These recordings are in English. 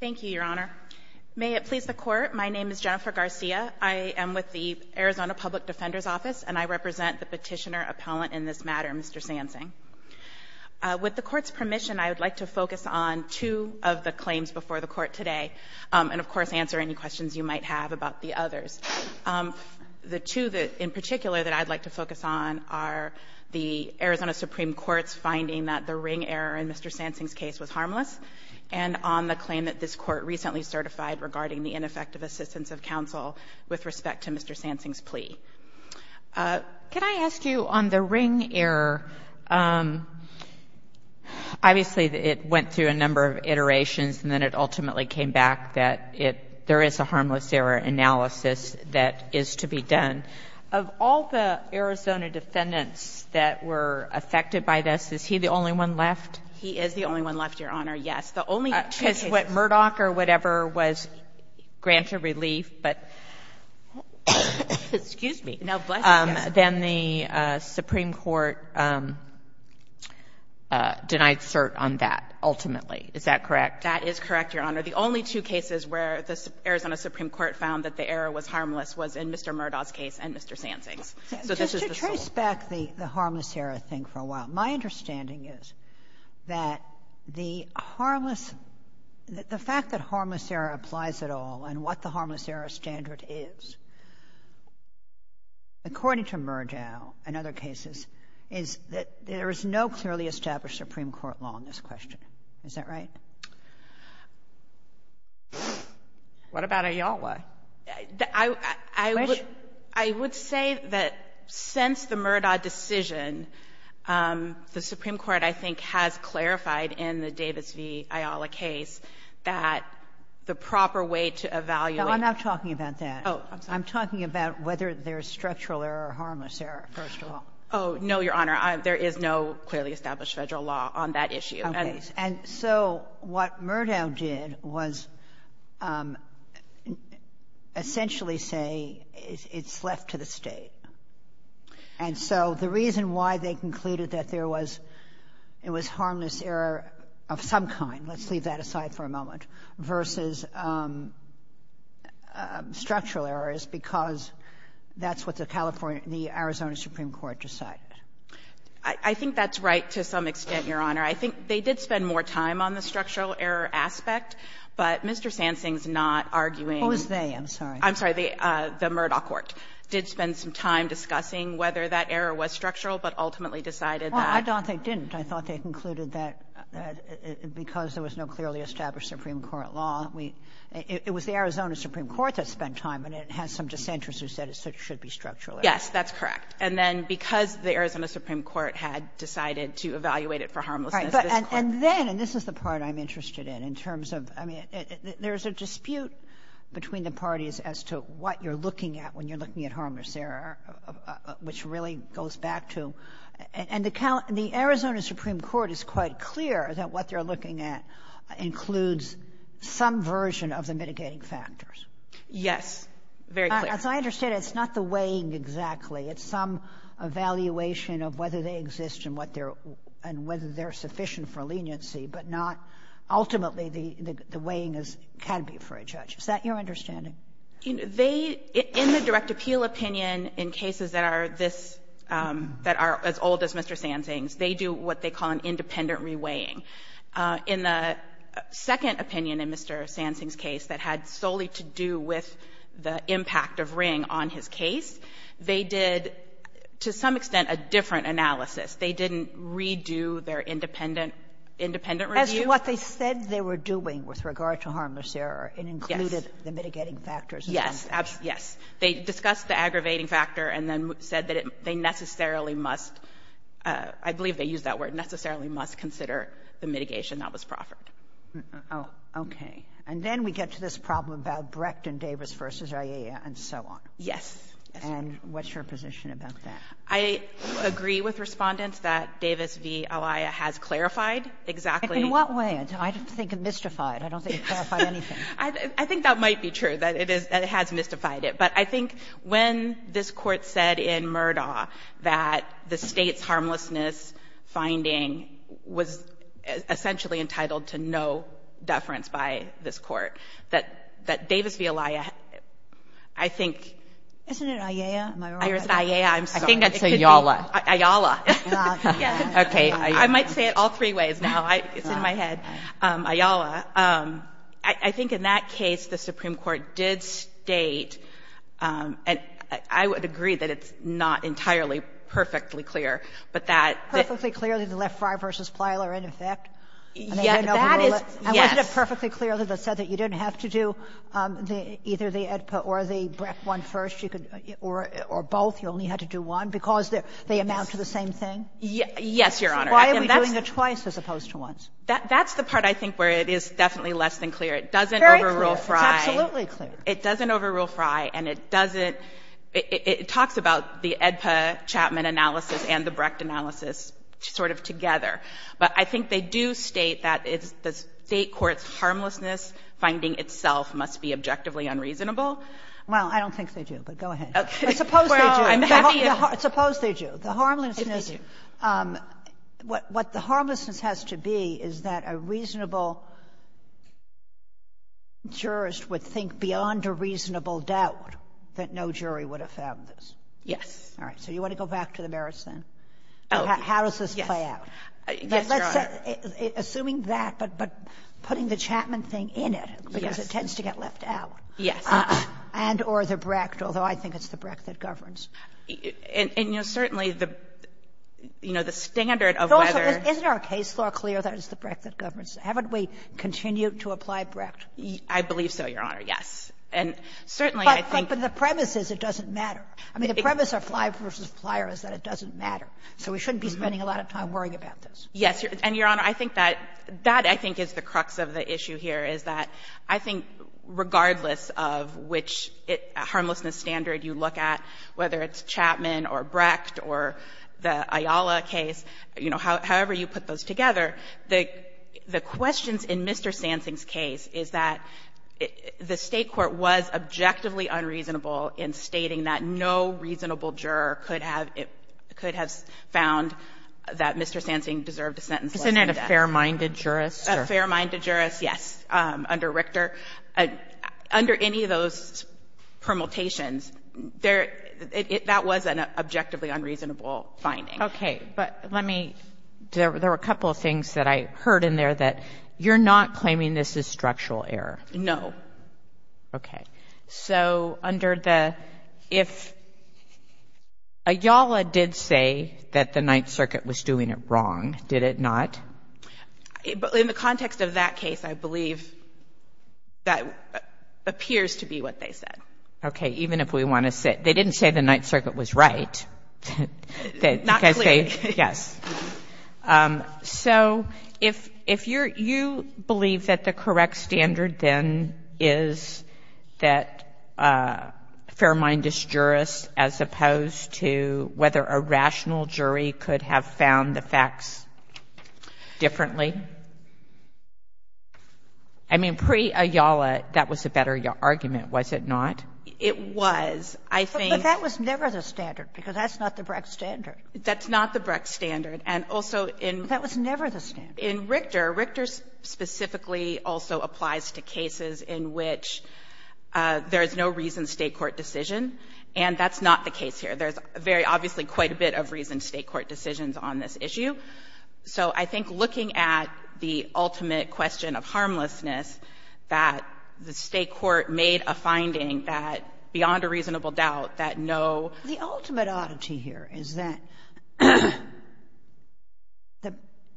Thank you, Your Honor. May it please the Court, my name is Jennifer Garcia. I am with the Arizona Public Defender's Office and I represent the petitioner appellant in this matter, Mr. Sansing. With the Court's permission, I would like to focus on two of the claims before the Court today and, of course, answer any questions you might have about the others. The two in particular that I'd like to focus on are the Arizona Supreme Court's finding that the ring error in Mr. Sansing's case was harmless and on the claim that this Court recently certified regarding the ineffective assistance of counsel with respect to Mr. Sansing's plea. Could I ask you, on the ring error, obviously it went through a number of iterations and then it ultimately came back that there is a harmless error analysis that is to be done. And of all the Arizona defendants that were affected by this, is he the only one left? He is the only one left, Your Honor, yes. The only two cases — Because what, Murdoch or whatever was granted relief, but — Excuse me. No, bless you. — then the Supreme Court denied cert on that ultimately. Is that correct? That is correct, Your Honor. The only two cases where the Arizona Supreme Court found that the error was harmless was in Mr. Murdoch's case and Mr. Sansing's. So this is the sole — Just to trace back the harmless error thing for a while, my understanding is that the harmless — the fact that harmless error applies at all and what the harmless error standard is, according to Murdoch and other cases, is that there is no clearly established Supreme Court law in this question. Is that right? What about Ayala? I would say that since the Murdoch decision, the Supreme Court, I think, has clarified in the Davis v. Ayala case that the proper way to evaluate — No, I'm not talking about that. Oh, I'm sorry. I'm talking about whether there is structural error or harmless error, first of all. Oh, no, Your Honor. There is no clearly established Federal law on that issue. Okay. And so what Murdoch did was essentially say it's left to the State. And so the reason why they concluded that there was — it was harmless error of some kind — let's leave that aside for a moment — versus structural error is because that's what the Arizona Supreme Court decided. I think that's right to some extent, Your Honor. I think they did spend more time on the structural error aspect, but Mr. Sansing's not arguing — Who is they? I'm sorry. I'm sorry. The Murdoch court did spend some time discussing whether that error was structural, but ultimately decided that — Well, I don't think they didn't. I thought they concluded that because there was no clearly established Supreme Court law, we — it was the Arizona Supreme Court that spent time, and it has some dissenters who said it should be structural error. Yes, that's correct. And then because the Arizona Supreme Court had decided to evaluate it for harmlessness — All right. But — and then — and this is the part I'm interested in, in terms of — I mean, there's a dispute between the parties as to what you're looking at when you're looking at harmless error, which really goes back to — and the Arizona Supreme Court is quite clear that what they're looking at includes some version of the mitigating factors. Yes. Very clear. As I understand it, it's not the weighing exactly. It's some evaluation of whether they exist and what their — and whether they're sufficient for leniency, but not — ultimately, the — the weighing is — can be for a judge. Is that your understanding? They — in the direct appeal opinion, in cases that are this — that are as old as Mr. Sansing's, they do what they call an independent re-weighing. In the second opinion in Mr. Sansing's case that had solely to do with the impact of Ring on his case, they did, to some extent, a different analysis. They didn't redo their independent — independent review. As to what they said they were doing with regard to harmless error, it included the mitigating factors. Yes. Yes. They discussed the aggravating factor and then said that it — they necessarily must — I believe they used that word, necessarily must consider the mitigation that was proffered. Oh. Okay. And then we get to this problem about Brecht and Davis v. Alaya and so on. Yes. And what's your position about that? I agree with Respondents that Davis v. Alaya has clarified exactly — In what way? I think it mystified. I don't think it clarified anything. I think that might be true, that it is — that it has mystified it. But I think when this Court said in Murdaugh that the State's harmlessness finding was essentially entitled to no deference by this Court, that Davis v. Alaya, I think — Isn't it Ayala? Am I wrong? Or is it Ayala? I'm sorry. I think it's Ayala. Ayala. Ah, yes. Okay. I might say it all three ways now. It's in my head. Ayala. I think in that case the Supreme Court did state — and I would agree that it's not entirely perfectly clear, but that — That is — Yes. And wasn't it perfectly clear that it said that you didn't have to do either the AEDPA or the Brecht one first, or both, you only had to do one, because they amount to the same thing? Yes, Your Honor. Why are we doing it twice as opposed to once? That's the part I think where it is definitely less than clear. It doesn't overrule Frey. Very clear. It's absolutely clear. It doesn't overrule Frey, and it doesn't — it talks about the AEDPA Chapman analysis and the Brecht analysis sort of together. But I think they do state that the State Court's harmlessness finding itself must be objectively unreasonable. Well, I don't think they do, but go ahead. Okay. Well, I'm happy if — Suppose they do. The harmlessness — If they do. What the harmlessness has to be is that a reasonable jurist would think beyond a reasonable doubt that no jury would have found this. Yes. All right. So you want to go back to the merits, then? Oh, yes. How does this play out? Yes, Your Honor. Assuming that, but putting the Chapman thing in it, because it tends to get left out. Yes. And or the Brecht, although I think it's the Brecht that governs. And, you know, certainly the — you know, the standard of whether — Also, isn't our case law clear that it's the Brecht that governs? Haven't we continued to apply Brecht? I believe so, Your Honor, yes. And certainly, I think — But the premise is it doesn't matter. I mean, the premise of Flyer v. Flyer is that it doesn't matter. So we shouldn't be spending a lot of time worrying about this. Yes. And, Your Honor, I think that — that, I think, is the crux of the issue here, is that I think regardless of which harmlessness standard you look at, whether it's Chapman or Brecht or the Ayala case, you know, however you put those together, the questions in Mr. Sansing's case is that the State court was objectively unreasonable in stating that no reasonable juror could have — could have found that Mr. Sansing deserved a sentence less than death. Isn't it a fair-minded jurist? A fair-minded jurist, yes, under Richter. Under any of those permutations, there — that was an objectively unreasonable finding. Okay. But let me — there were a couple of things that I heard in there that you're not claiming this is structural error. No. Okay. So under the — if Ayala did say that the Ninth Circuit was doing it wrong, did it not? In the context of that case, I believe that appears to be what they said. Okay. Even if we want to say — they didn't say the Ninth Circuit was right. Not clearly. Yes. So if — if you're — you believe that the correct standard, then, is that a fair-minded jurist as opposed to whether a rational jury could have found the facts differently? I mean, pre-Ayala, that was a better argument, was it not? It was. I think — But that was never the standard, because that's not the Brecht standard. That's not the Brecht standard. And also in — But that was never the standard. In Richter, Richter specifically also applies to cases in which there is no reason State court decision, and that's not the case here. There's very — obviously quite a bit of reason State court decisions on this issue. So I think looking at the ultimate question of harmlessness, that the State court made a finding that, beyond a reasonable doubt, that no — The ultimate oddity here is that —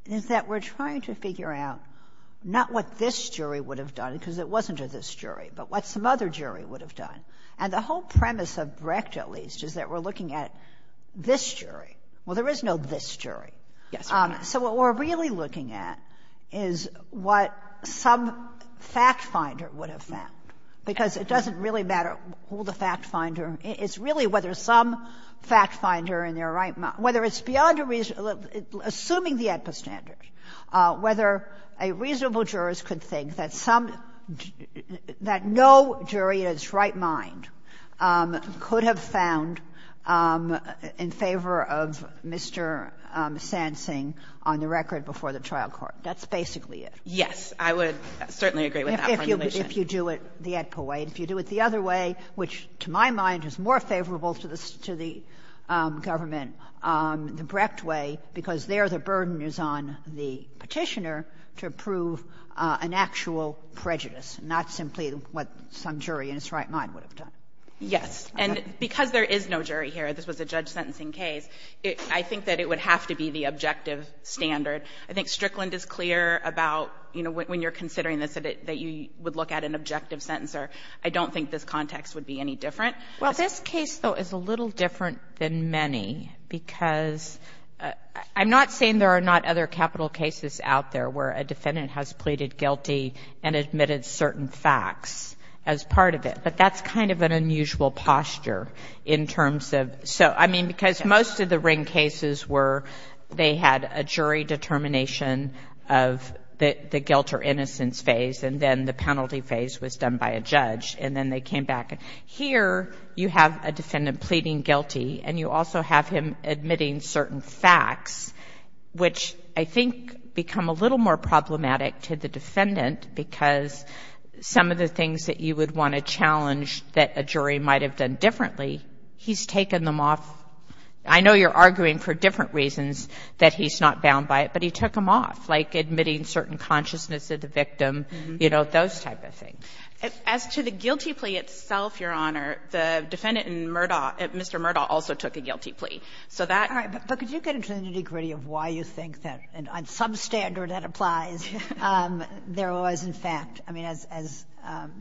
is that we're trying to figure out not what this jury would have done, because it wasn't a this jury, but what some other jury would have done. And the whole premise of Brecht, at least, is that we're looking at this jury. Well, there is no this jury. Yes, there is. So what we're really looking at is what some fact-finder would have found, because it doesn't really matter who the fact-finder — it's really whether some fact-finder in their right mind — whether it's beyond a reasonable — assuming the AEDPA standard, whether a reasonable jurors could think that some — that no jury in its right mind could have found in favor of Mr. Sansing on the record before the trial court. That's basically it. Yes. I would certainly agree with that formulation. If you do it the AEDPA way. If you do it the other way, which, to my mind, is more favorable to the government, the Brecht way, because there the burden is on the Petitioner to prove an actual prejudice, not simply what some jury in its right mind would have done. Yes. And because there is no jury here, this was a judge-sentencing case, I think that it would have to be the objective standard. I think Strickland is clear about, you know, when you're considering this, that you would look at an objective sentence, or I don't think this context would be any different. Well, this case, though, is a little different than many because — I'm not saying there are not other capital cases out there where a defendant has pleaded guilty and admitted certain facts as part of it, but that's kind of an unusual posture in terms of — so, I mean, because most of the Ring cases were — they had a jury determination of the guilt or innocence phase, and then the penalty phase was done by a judge, and then they came back. Here, you have a defendant pleading guilty, and you also have him admitting certain facts, which I think become a little more problematic to the defendant because some of the things that you would want to challenge that a jury might have done differently, he's taken them off — I know you're arguing for different reasons that he's not bound by it, but he took them off, like admitting certain consciousness of the victim, you know, those type of things. As to the guilty plea itself, Your Honor, the defendant in Murdaugh — Mr. Murdaugh also took a guilty plea. So that — All right. But could you get into the nitty-gritty of why you think that, on some standard that applies, there was, in fact — I mean, as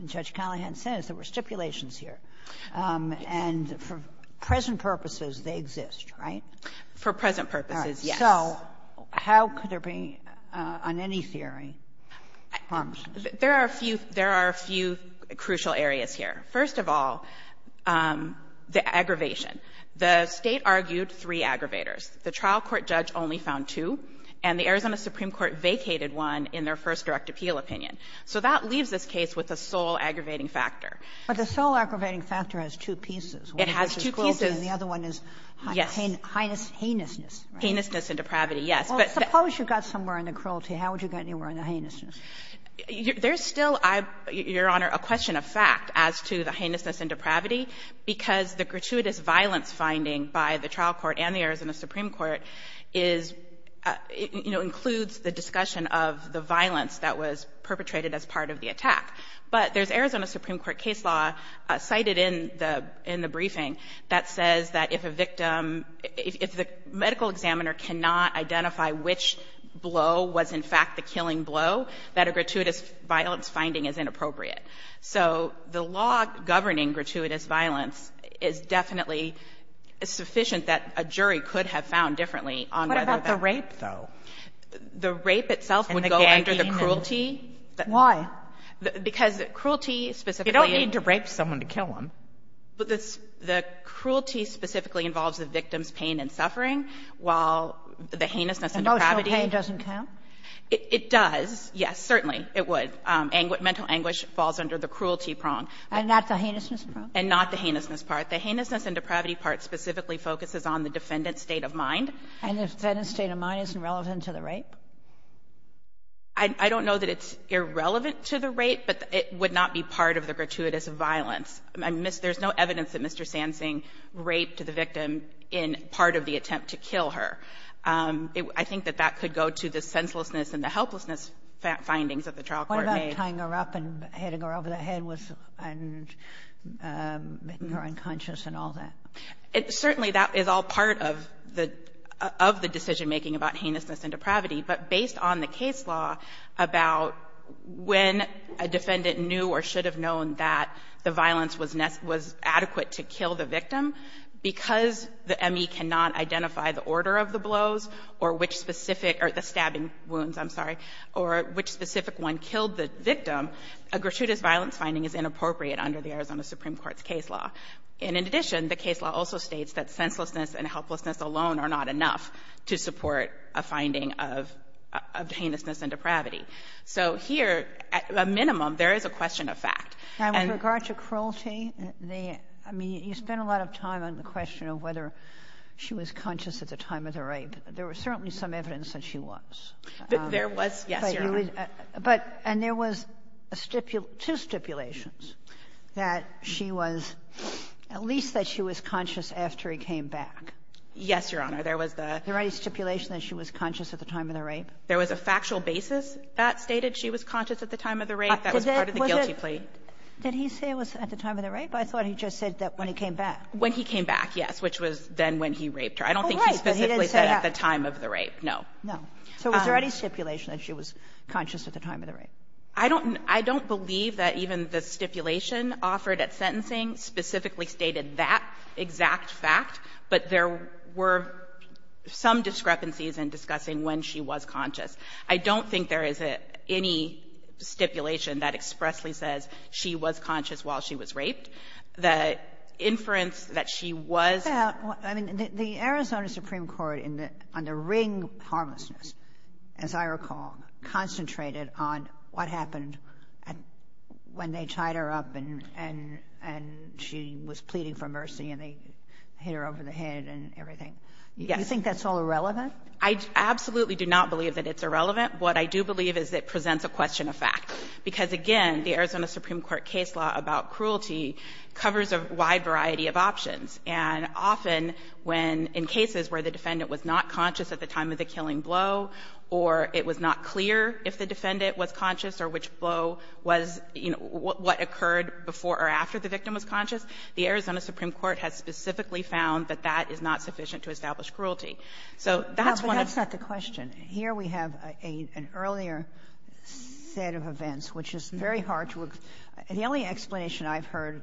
Judge Callahan says, there were stipulations here. And for present purposes, they exist, right? For present purposes, yes. All right. So how could there be, on any theory, harms? There are a few — there are a few crucial areas here. First of all, the aggravation. The State argued three aggravators. The trial court judge only found two, and the Arizona Supreme Court vacated one in their first direct appeal opinion. So that leaves this case with a sole aggravating factor. But the sole aggravating factor has two pieces. It has two pieces. And the other one is heinousness, right? Heinousness and depravity, yes. But — Suppose you got somewhere in the cruelty. How would you get anywhere in the heinousness? There's still, Your Honor, a question of fact as to the heinousness and depravity, because the gratuitous violence finding by the trial court and the Arizona Supreme Court is — you know, includes the discussion of the violence that was perpetrated as part of the attack. But there's Arizona Supreme Court case law cited in the briefing that says that if a victim — if the medical examiner cannot identify which blow was in fact the killing blow, that a gratuitous violence finding is inappropriate. So the law governing gratuitous violence is definitely sufficient that a jury could have found differently on whether that — What about the rape, though? The rape itself would go under the cruelty. Why? Because cruelty specifically — You don't need to rape someone to kill them. The cruelty specifically involves the victim's pain and suffering, while the heinousness and depravity — Emotional pain doesn't count? It does, yes, certainly it would. Mental anguish falls under the cruelty prong. And not the heinousness prong? And not the heinousness part. The heinousness and depravity part specifically focuses on the defendant's state of mind. And the defendant's state of mind isn't relevant to the rape? I don't know that it's irrelevant to the rape, but it would not be part of the gratuitous violence. There's no evidence that Mr. Sansing raped the victim in part of the attempt to kill her. I think that that could go to the senselessness and the helplessness findings that the trial court made. What about tying her up and heading her over the head and making her unconscious and all that? Certainly that is all part of the decision-making about heinousness and depravity. But based on the case law about when a defendant knew or should have known that the violence was adequate to kill the victim, because the ME cannot identify the order of the blows or which specific — or the stabbing wounds, I'm sorry, or which specific one killed the victim, a gratuitous violence finding is inappropriate under the Arizona Supreme Court's case law. And in addition, the case law also states that senselessness and helplessness alone are not enough to support a finding of heinousness and depravity. So here, at a minimum, there is a question of fact. And with regard to cruelty, I mean, you spent a lot of time on the question of whether she was conscious at the time of the rape. There was certainly some evidence that she was. There was. Yes, Your Honor. But — and there was two stipulations, that she was — at least that she was conscious after he came back. Yes, Your Honor. There was the — There any stipulation that she was conscious at the time of the rape? There was a factual basis that stated she was conscious at the time of the rape. That was part of the guilty plea. Was it — did he say it was at the time of the rape? I thought he just said that when he came back. When he came back, yes, which was then when he raped her. Oh, right. But he didn't say that. I don't think he specifically said at the time of the rape. No. No. So was there any stipulation that she was conscious at the time of the rape? I don't — I don't believe that even the stipulation offered at sentencing specifically stated that exact fact. But there were some discrepancies in discussing when she was conscious. I don't think there is any stipulation that expressly says she was conscious while she was raped. The inference that she was — Well, I mean, the Arizona Supreme Court, on the ring of harmlessness, as I recall, concentrated on what happened when they tied her up and she was pleading for mercy and they hit her over the head and everything. Yes. Do you think that's all irrelevant? I absolutely do not believe that it's irrelevant. What I do believe is it presents a question of fact because, again, the Arizona Supreme Court case law about cruelty covers a wide variety of options. And often when — in cases where the defendant was not conscious at the time of the defendant was conscious or which blow was — you know, what occurred before or after the victim was conscious, the Arizona Supreme Court has specifically found that that is not sufficient to establish cruelty. So that's one of — No, but that's not the question. Here we have an earlier set of events, which is very hard to — the only explanation I've heard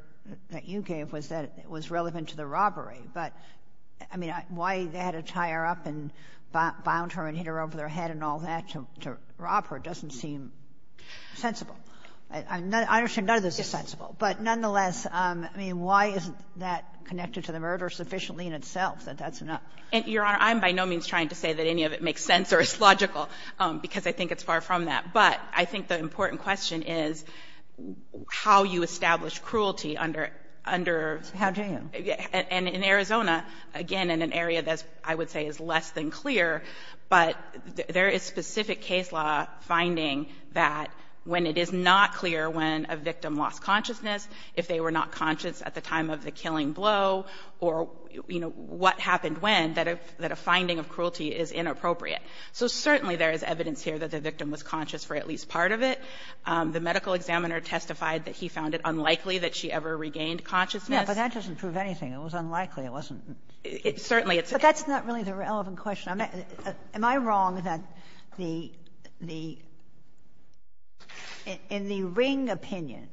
that you gave was that it was relevant to the robbery. But, I mean, why they had to tie her up and bound her and hit her over the head and all that to rob her doesn't seem sensible. I understand none of this is sensible. But, nonetheless, I mean, why isn't that connected to the murder sufficiently in itself that that's enough? Your Honor, I'm by no means trying to say that any of it makes sense or is logical because I think it's far from that. But I think the important question is how you establish cruelty under — How do you? And in Arizona, again, in an area that I would say is less than clear, but there is specific case law finding that when it is not clear when a victim lost consciousness, if they were not conscious at the time of the killing blow, or, you know, what happened when, that a — that a finding of cruelty is inappropriate. So certainly there is evidence here that the victim was conscious for at least part of it. The medical examiner testified that he found it unlikely that she ever regained consciousness. Yeah, but that doesn't prove anything. It was unlikely. It wasn't — It certainly — But that's not really the relevant question. Am I wrong that the — in the Ring opinion,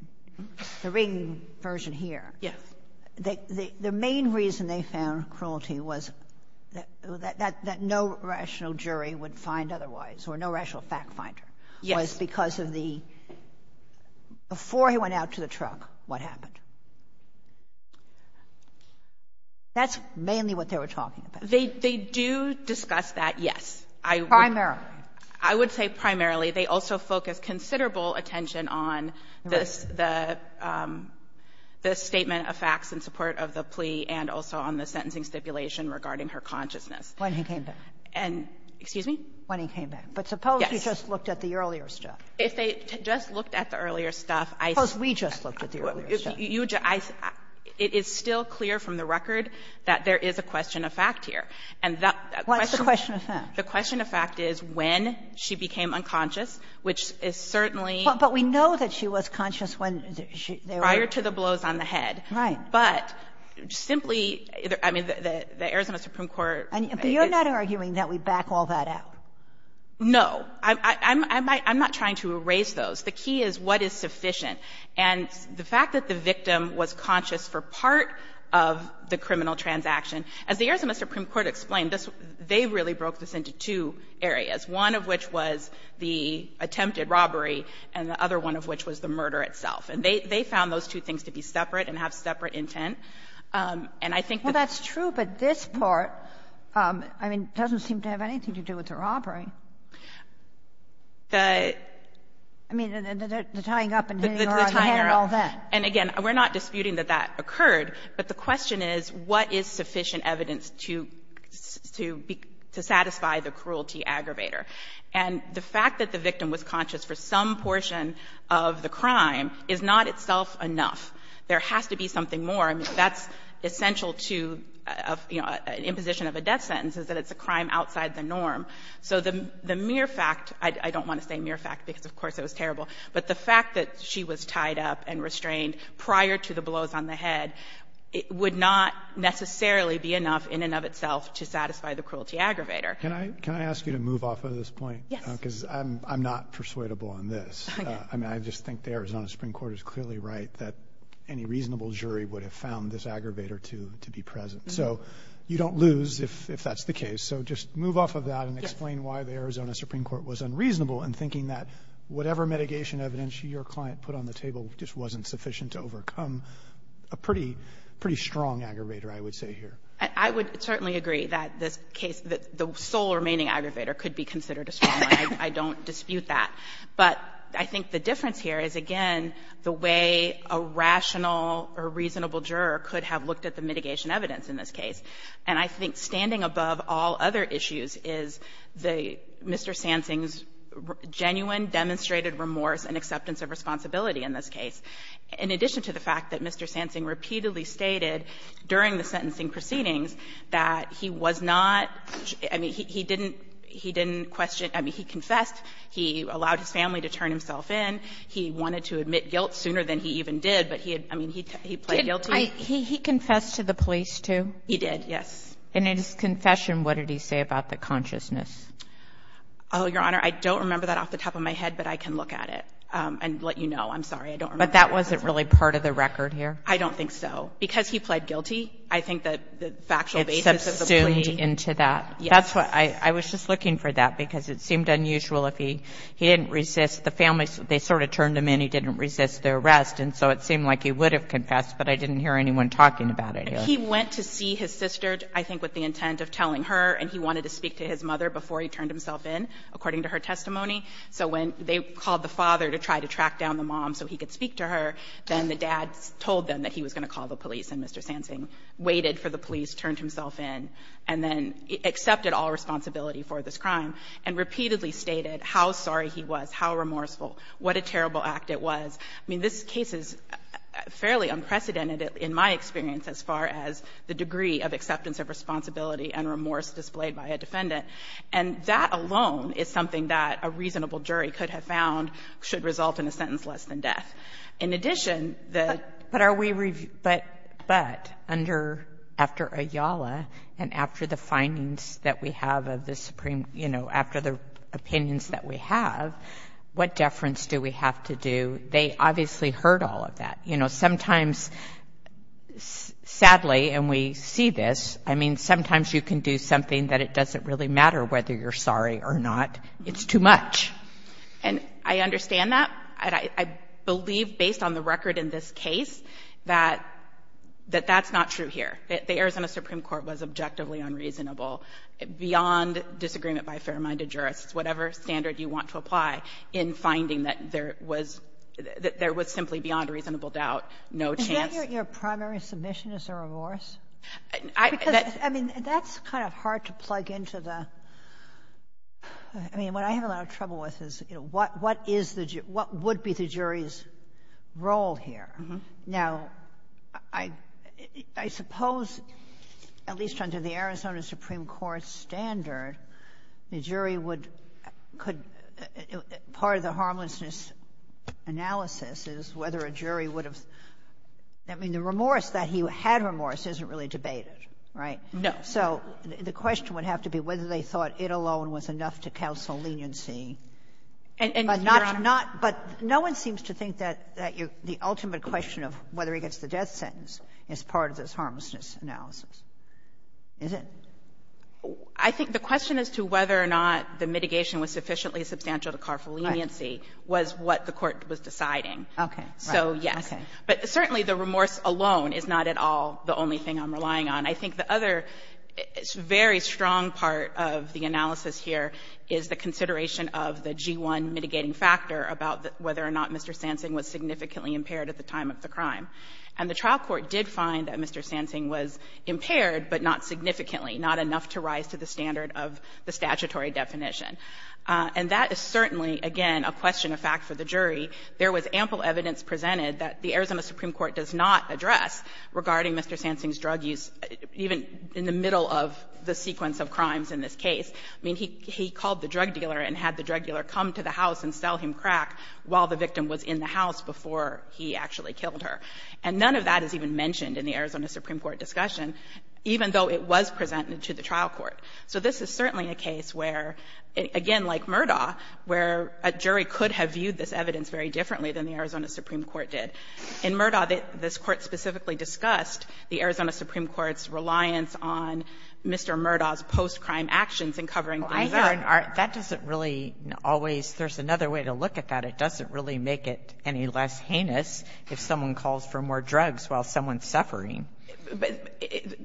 the Ring version here — Yes. — the main reason they found cruelty was that no rational jury would find otherwise or no rational fact finder. Yes. It was because of the — before he went out to the truck, what happened? That's mainly what they were talking about. They do discuss that, yes. Primarily. I would say primarily. They also focus considerable attention on this — the statement of facts in support of the plea and also on the sentencing stipulation regarding her consciousness. When he came back. And — excuse me? When he came back. Yes. But suppose he just looked at the earlier stuff. If they just looked at the earlier stuff, I — Suppose we just looked at the earlier stuff. You — I — it is still clear from the record that there is a question of fact here. And that — What's the question of fact? The question of fact is when she became unconscious, which is certainly — But we know that she was conscious when she —— prior to the blows on the head. Right. But simply — I mean, the Arizona Supreme Court — But you're not arguing that we back all that out. No. I'm not trying to erase those. The key is what is sufficient. And the fact that the victim was conscious for part of the criminal transaction — as the Arizona Supreme Court explained, they really broke this into two areas, one of which was the attempted robbery and the other one of which was the murder itself. And they found those two things to be separate and have separate intent. And I think that — Well, that's true. But this part, I mean, doesn't seem to have anything to do with the robbery. The — I mean, the tying up and hitting her on the head and all that. The tying up. And, again, we're not disputing that that occurred. But the question is, what is sufficient evidence to satisfy the cruelty aggravator? And the fact that the victim was conscious for some portion of the crime is not itself enough. There has to be something more. I mean, that's essential to, you know, an imposition of a death sentence, is that it's a crime outside the norm. So the mere fact — I don't want to say mere fact because, of course, it was terrible. But the fact that she was tied up and restrained prior to the blows on the head would not necessarily be enough in and of itself to satisfy the cruelty aggravator. Can I ask you to move off of this point? Yes. Because I'm not persuadable on this. I mean, I just think the Arizona Supreme Court is clearly right that any reasonable jury would have found this aggravator to be present. So you don't lose if that's the case. So just move off of that and explain why the Arizona Supreme Court was unreasonable in thinking that whatever mitigation evidence your client put on the table just wasn't sufficient to overcome a pretty strong aggravator, I would say here. I would certainly agree that this case, that the sole remaining aggravator could be considered a strong one. I don't dispute that. But I think the difference here is, again, the way a rational or reasonable juror could have looked at the mitigation evidence in this case. And I think standing above all other issues is the Mr. Sansing's genuine demonstrated remorse and acceptance of responsibility in this case, in addition to the fact that Mr. Sansing repeatedly stated during the sentencing proceedings that he was not – I mean, he didn't question – I mean, he confessed. He allowed his family to turn himself in. He wanted to admit guilt sooner than he even did, but he had – I mean, he played guilty. He confessed to the police, too? He did, yes. And in his confession, what did he say about the consciousness? Oh, Your Honor, I don't remember that off the top of my head, but I can look at it and let you know. I'm sorry, I don't remember. But that wasn't really part of the record here? I don't think so. Because he played guilty, I think that the factual basis of the plea – It subsumed into that. Yes. That's what – I was just looking for that, because it seemed unusual if he – he didn't resist. The family, they sort of turned him in. He didn't resist the arrest. And so it seemed like he would have confessed, but I didn't hear anyone talking about it here. He went to see his sister, I think with the intent of telling her, and he wanted to speak to his mother before he turned himself in, according to her testimony. So when they called the father to try to track down the mom so he could speak to her, then the dad told them that he was going to call the police, and Mr. Sansing waited for the police, turned himself in, and then accepted all responsibility for this crime, and repeatedly stated how sorry he was, how remorseful, what a terrible act it was. I mean, this case is fairly unprecedented in my experience as far as the degree of acceptance of responsibility and remorse displayed by a defendant. And that alone is something that a reasonable jury could have found should result in a sentence less than death. In addition, the – But are we – but under – after Ayala and after the findings that we have of the Supreme – you know, after the opinions that we have, what deference do we have to do, they obviously heard all of that. You know, sometimes, sadly, and we see this, I mean, sometimes you can do something that it doesn't really matter whether you're sorry or not. It's too much. And I understand that. I believe, based on the record in this case, that that's not true here. The Arizona Supreme Court was objectively unreasonable, beyond disagreement by the jury. There was simply, beyond a reasonable doubt, no chance. Is that your primary submission is a remorse? Because, I mean, that's kind of hard to plug into the – I mean, what I have a lot of trouble with is, you know, what is the – what would be the jury's role here? Now, I suppose, at least under the Arizona Supreme Court standard, the jury would – could – part of the harmlessness analysis is whether a jury would have – I mean, the remorse that he had remorse isn't really debated, right? No. So the question would have to be whether they thought it alone was enough to counsel leniency. But not – but no one seems to think that the ultimate question of whether he gets the death sentence is part of this harmlessness analysis, is it? I think the question as to whether or not the mitigation was sufficiently substantial to car for leniency was what the Court was deciding. Okay. So, yes. Okay. But certainly the remorse alone is not at all the only thing I'm relying on. I think the other very strong part of the analysis here is the consideration of the G-1 mitigating factor about whether or not Mr. Sansing was significantly impaired at the time of the crime. And the trial court did find that Mr. Sansing was impaired, but not significantly, not enough to rise to the standard of the statutory definition. And that is certainly, again, a question of fact for the jury. There was ample evidence presented that the Arizona Supreme Court does not address regarding Mr. Sansing's drug use, even in the middle of the sequence of crimes in this case. I mean, he called the drug dealer and had the drug dealer come to the house and sell him crack while the victim was in the house before he actually killed her. And none of that is even mentioned in the Arizona Supreme Court discussion, even though it was presented to the trial court. So this is certainly a case where, again, like Murdaugh, where a jury could have viewed this evidence very differently than the Arizona Supreme Court did. In Murdaugh, this Court specifically discussed the Arizona Supreme Court's reliance on Mr. Murdaugh's post-crime actions in covering things up. And that doesn't really always – there's another way to look at that. It doesn't really make it any less heinous if someone calls for more drugs while someone's suffering.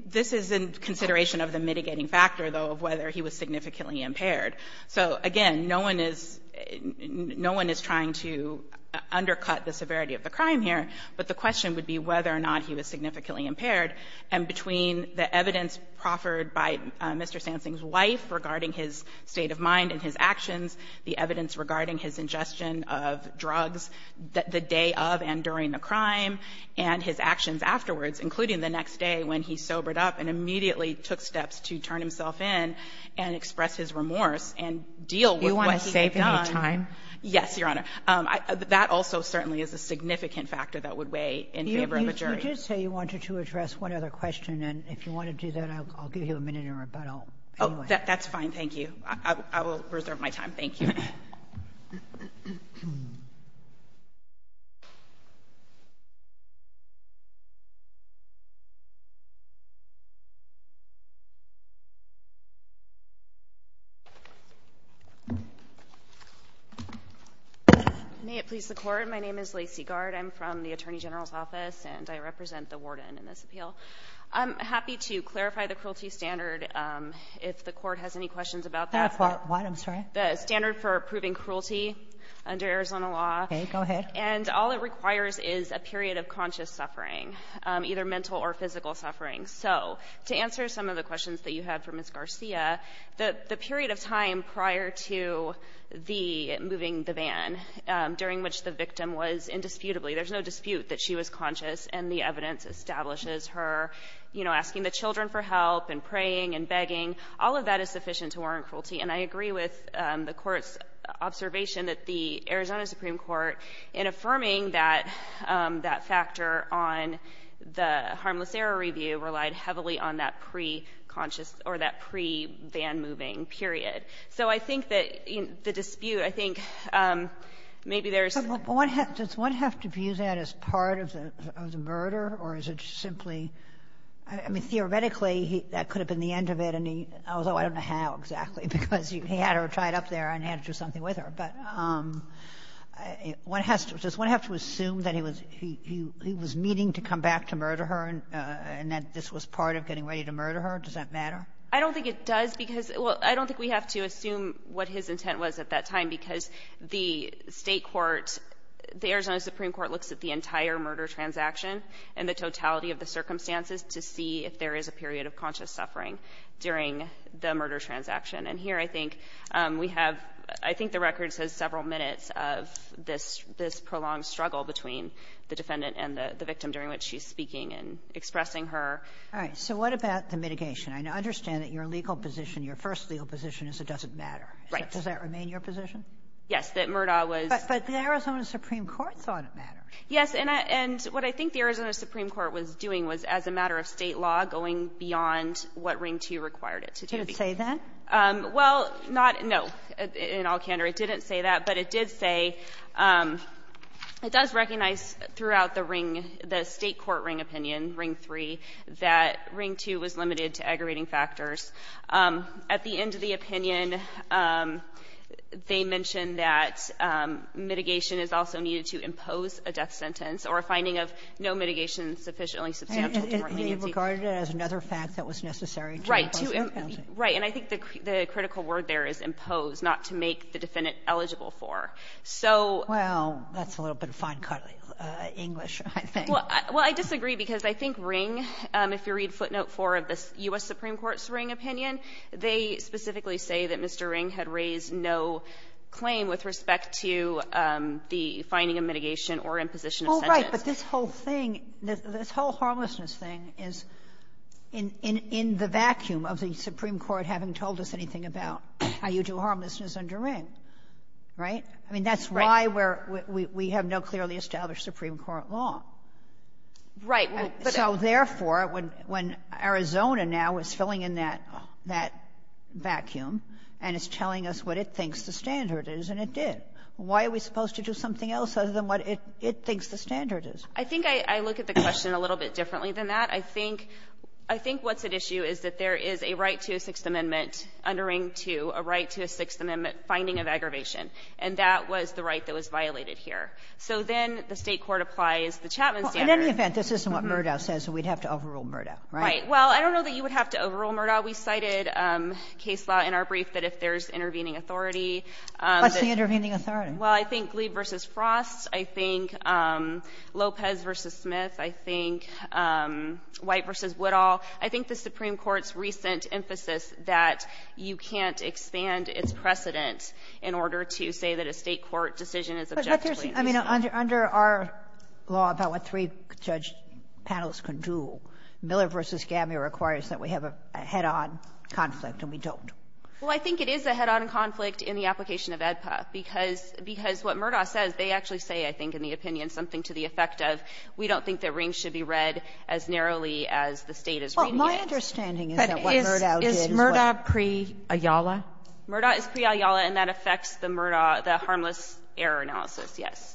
This is in consideration of the mitigating factor, though, of whether he was significantly impaired. So, again, no one is – no one is trying to undercut the severity of the crime here, but the question would be whether or not he was significantly impaired. And between the evidence proffered by Mr. Sansing's wife regarding his state of mind and his actions, the evidence regarding his ingestion of drugs the day of and during the crime, and his actions afterwards, including the next day when he sobered up and immediately took steps to turn himself in and express his remorse and deal with what he had done. Sotomayor, you want to save me time? Yes, Your Honor. I did say you wanted to address one other question, and if you want to do that, I'll give you a minute in rebuttal. Oh, that's fine. Thank you. I will reserve my time. Thank you. May it please the Court, my name is Lacey Gard. I'm from the Attorney General's Office, and I represent the warden in this appeal. I'm happy to clarify the cruelty standard if the Court has any questions about that. What? I'm sorry? The standard for proving cruelty under Arizona law. Okay. Go ahead. And all it requires is a period of conscious suffering, either mental or physical suffering. So to answer some of the questions that you had for Ms. Garcia, the period of time prior to the moving the van, during which the victim was indisputably, there's no dispute that she was conscious, and the evidence establishes her, you know, asking the children for help and praying and begging, all of that is sufficient to warrant cruelty. And I agree with the Court's observation that the Arizona Supreme Court, in affirming that factor on the harmless error review, relied heavily on that pre-conscious or that pre-van moving period. So I think that the dispute, I think maybe there's — Does one have to view that as part of the murder, or is it simply — I mean, theoretically, that could have been the end of it, although I don't know how exactly, because he had her tied up there and had to do something with her. But does one have to assume that he was meaning to come back to murder her and that this was Does that matter? I don't think it does, because — well, I don't think we have to assume what his intent was at that time, because the State court, the Arizona Supreme Court looks at the entire murder transaction and the totality of the circumstances to see if there is a period of conscious suffering during the murder transaction. And here I think we have — I think the record says several minutes of this prolonged struggle between the defendant and the victim during which she's speaking and expressing her. All right. So what about the mitigation? I understand that your legal position, your first legal position is it doesn't matter. Right. Does that remain your position? Yes, that Murdaugh was — But the Arizona Supreme Court thought it mattered. Yes. And what I think the Arizona Supreme Court was doing was, as a matter of State law, going beyond what Ring 2 required it to do. Did it say that? Well, not — no. In all candor, it didn't say that, but it did say — it does recognize throughout the Ring — the State court Ring opinion, Ring 3, that Ring 2 was limited to aggravating factors. At the end of the opinion, they mentioned that mitigation is also needed to impose a death sentence or a finding of no mitigation sufficiently substantial to warrant leniency. And they regarded it as another fact that was necessary to impose a penalty. Right. And I think the critical word there is impose, not to make the defendant eligible for. So — Well, that's a little bit of fine-cut English, I think. Well, I disagree, because I think Ring — if you read footnote 4 of the U.S. Supreme Court's Ring opinion, they specifically say that Mr. Ring had raised no claim with respect to the finding of mitigation or imposition of sentence. Oh, right. But this whole thing — this whole harmlessness thing is in the vacuum of the Supreme Court having told us anything about how you do harmlessness under Ring. Right? I mean, that's why we're — we have no clearly established Supreme Court law. Right. So, therefore, when Arizona now is filling in that vacuum and is telling us what it thinks the standard is, and it did, why are we supposed to do something else other than what it thinks the standard is? I think I look at the question a little bit differently than that. I think what's at issue is that there is a right to a Sixth Amendment under Ring 2, a right to a Sixth Amendment finding of aggravation, and that was the right that was violated here. So then the State court applies the Chapman standard. Well, in any event, this isn't what Murdaugh says, so we'd have to overrule Murdaugh, right? Right. Well, I don't know that you would have to overrule Murdaugh. We cited case law in our brief that if there's intervening authority — What's the intervening authority? Well, I think Glee v. Frost. I think Lopez v. Smith. I think White v. Woodall. I think the Supreme Court's recent emphasis that you can't expand its precedent in order to say that a State court decision is objectively — But there's — I mean, under our law about what three judge panels can do, Miller v. Gammeer requires that we have a head-on conflict, and we don't. Well, I think it is a head-on conflict in the application of AEDPA, because what Murdaugh says, they actually say, I think, in the opinion, something to the effect of we don't think that rings should be read as narrowly as the State is reading it. Well, my understanding is that what Murdaugh did is what — But is Murdaugh pre-Ayala? Murdaugh is pre-Ayala, and that affects the Murdaugh — the harmless error analysis, yes.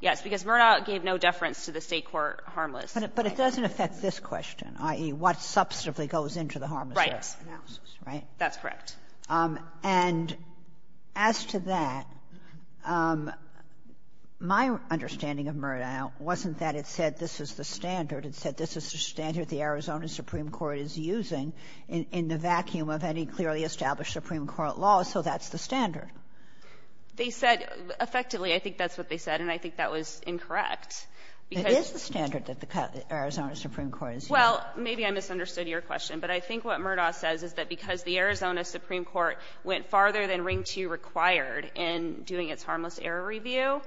Yes, because Murdaugh gave no deference to the State court harmless — But it doesn't affect this question, i.e., what substantively goes into the harmless error analysis, right? Right. That's correct. And as to that, my understanding of Murdaugh wasn't that it said this is the standard. It said this is the standard the Arizona Supreme Court is using in the vacuum of any clearly established Supreme Court law, so that's the standard. They said — effectively, I think that's what they said, and I think that was incorrect. It is the standard that the Arizona Supreme Court is using. Well, maybe I misunderstood your question, but I think what Murdaugh says is that because the Arizona Supreme Court went farther than Ring II required in doing its harmless error review,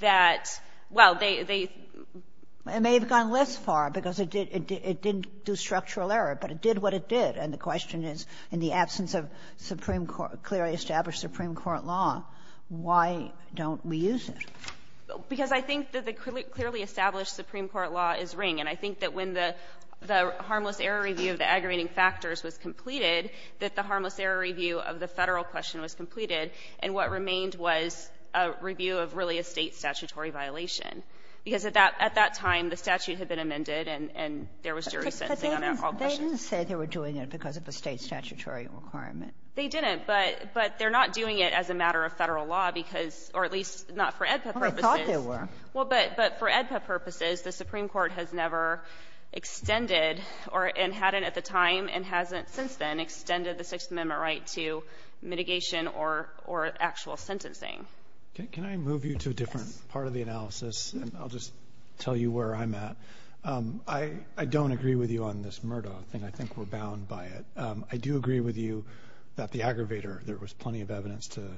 that — well, they — It may have gone less far because it didn't do structural error, but it did what it did, and the question is, in the absence of clearly established Supreme Court law, why don't we use it? Because I think that the clearly established Supreme Court law is Ring, and I think that when the harmless error review of the aggravating factors was completed, that the harmless error review of the Federal question was completed, and what remained was a review of really a State statutory violation. Because at that time, the statute had been amended, and there was jury sentencing on all questions. But they didn't say they were doing it because of a State statutory requirement. They didn't, but they're not doing it as a matter of Federal law because — or at least not for AEDPA purposes. Well, they thought they were. Well, but for AEDPA purposes, the Supreme Court has never extended or — and hadn't at the time and hasn't since then extended the Sixth Amendment right to mitigation or actual sentencing. Can I move you to a different part of the analysis, and I'll just tell you where I'm at? I don't agree with you on this Murdoch thing. I think we're bound by it. I do agree with you that the aggravator, there was plenty of evidence to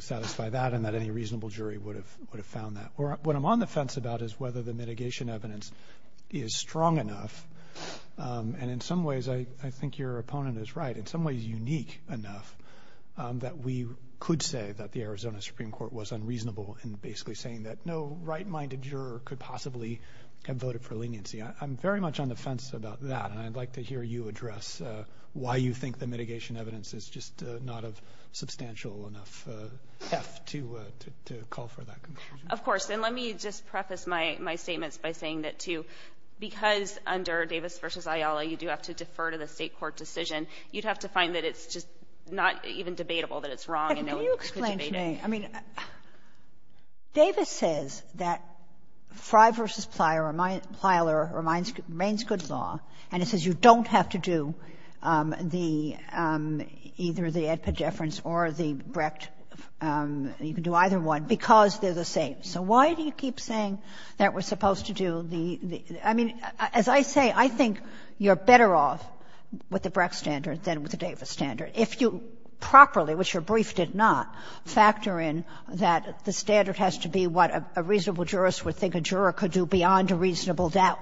satisfy that, and that any reasonable jury would have found that. What I'm on the fence about is whether the mitigation evidence is strong enough, and in some ways, I think your opponent is right, in some ways unique enough that we could say that the Arizona Supreme Court was unreasonable in basically saying that no right-minded juror could possibly have voted for leniency. I'm very much on the fence about that, and I'd like to hear you address why you think the mitigation evidence is just not of substantial enough heft to call for that conclusion. Of course. And let me just preface my statements by saying that, too, because under Davis v. Ayala, you do have to defer to the State court decision, you'd have to find that it's just not even debatable that it's wrong and no one could debate it. Can you explain to me? I mean, Davis says that Frye v. Plyler remains good law, and it says you don't have to do the — either the Edpid deference or the Brecht. You can do either one because they're the same. So why do you keep saying that we're supposed to do the — I mean, as I say, I think you're better off with the Brecht standard than with the Davis standard if you properly, which your brief did not, factor in that the standard has to be what a reasonable jurist would think a juror could do beyond a reasonable doubt.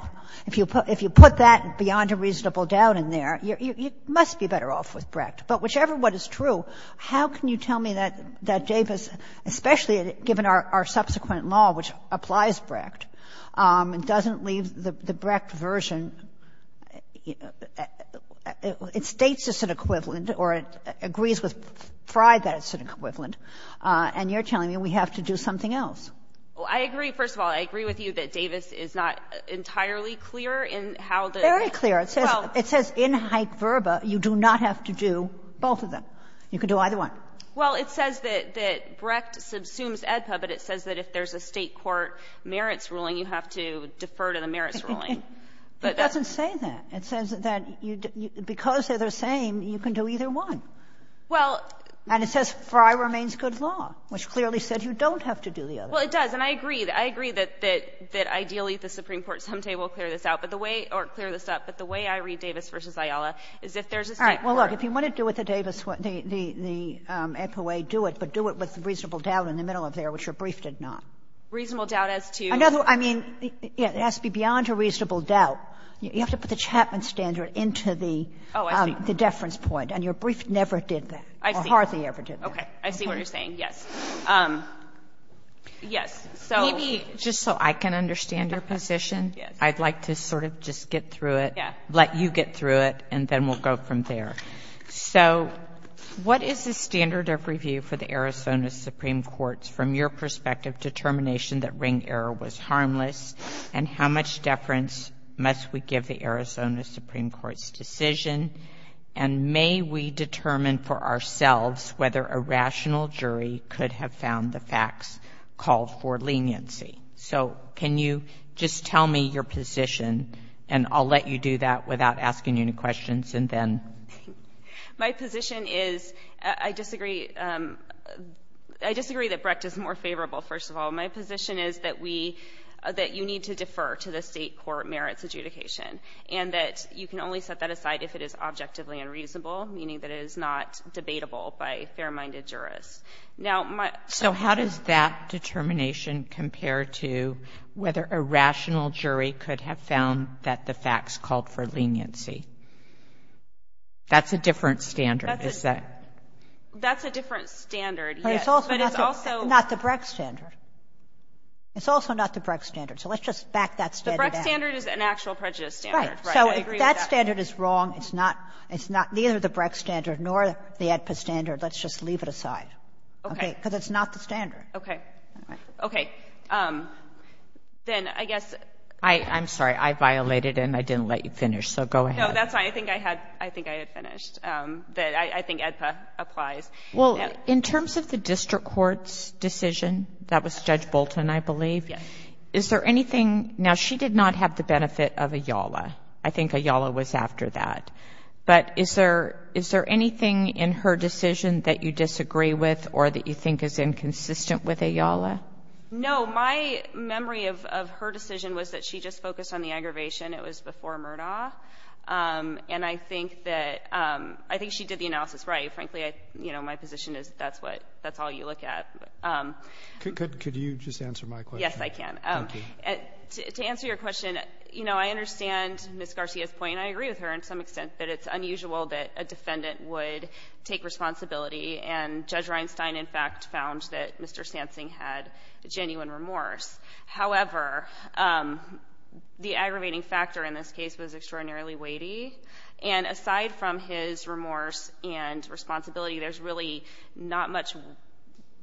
If you put that beyond a reasonable doubt in there, you must be better off with Brecht. But whichever one is true, how can you tell me that Davis, especially given our subsequent law, which applies Brecht and doesn't leave the Brecht version, it states as an equivalent or it agrees with Frye that it's an equivalent, and you're telling me we have to do something else? Well, I agree, first of all. I agree with you that Davis is not entirely clear in how the — Very clear. It says — it says in haec verba, you do not have to do both of them. You can do either one. Well, it says that Brecht subsumes Edpa, but it says that if there's a State court merits ruling, you have to defer to the merits ruling. But that's — It doesn't say that. It says that because they're the same, you can do either one. Well — And it says Frye remains good law, which clearly said you don't have to do the other two. Well, it does, and I agree. I agree that — that ideally the Supreme Court someday will clear this out, but the way — or clear this up, but the way I read Davis v. Ayala is if there's a State court — All right. Well, look, if you want to do what the Davis — the Edpa way, do it, but do it with reasonable doubt in the middle of there, which your brief did not. Reasonable doubt as to — I mean, it has to be beyond a reasonable doubt. You have to put the Chapman standard into the — Oh, I see. The deference point. And your brief never did that. I see. Or hardly ever did that. Okay. I see what you're saying. Yes. Yes. So — Maybe just so I can understand your position, I'd like to sort of just get through it, let you get through it, and then we'll go from there. So what is the standard of review for the Arizona Supreme Court's, from your perspective, determination that ring error was harmless, and how much deference must we give the Arizona Supreme Court's decision? And may we determine for ourselves whether a rational jury could have found the facts called for leniency? So can you just tell me your position, and I'll let you do that without asking you any questions, and then — My position is — I disagree — I disagree that Brecht is more favorable, first of all. My position is that we — that you need to defer to the State court merits adjudication, and that you can only set that aside if it is objectively unreasonable, meaning that it is not debatable by fair-minded jurists. Now, my — So how does that determination compare to whether a rational jury could have found that the facts called for leniency? That's a different standard, is that — That's a different standard, yes. But it's also — But it's also not the Brecht standard. It's also not the Brecht standard. So let's just back that standard up. That standard is an actual prejudice standard, right? I agree with that. Right. So if that standard is wrong, it's not — it's neither the Brecht standard nor the AEDPA standard. Let's just leave it aside. Okay. Because it's not the standard. Okay. Okay. Then I guess — I'm sorry. I violated and I didn't let you finish, so go ahead. No, that's fine. I think I had — I think I had finished. I think AEDPA applies. Well, in terms of the district court's decision, that was Judge Bolton, I believe. Yes. Is there anything — Now, she did not have the benefit of a YALA. I think a YALA was after that. But is there anything in her decision that you disagree with or that you think is inconsistent with a YALA? No. My memory of her decision was that she just focused on the aggravation. It was before Murdaugh. And I think that — I think she did the analysis right. Frankly, you know, my position is that's what — that's all you look at. Could you just answer my question? Yes, I can. Thank you. To answer your question, you know, I understand Ms. Garcia's point. I agree with her in some extent that it's unusual that a defendant would take responsibility. And Judge Reinstein, in fact, found that Mr. Sansing had genuine remorse. However, the aggravating factor in this case was extraordinarily weighty. And aside from his remorse and responsibility, there's really not much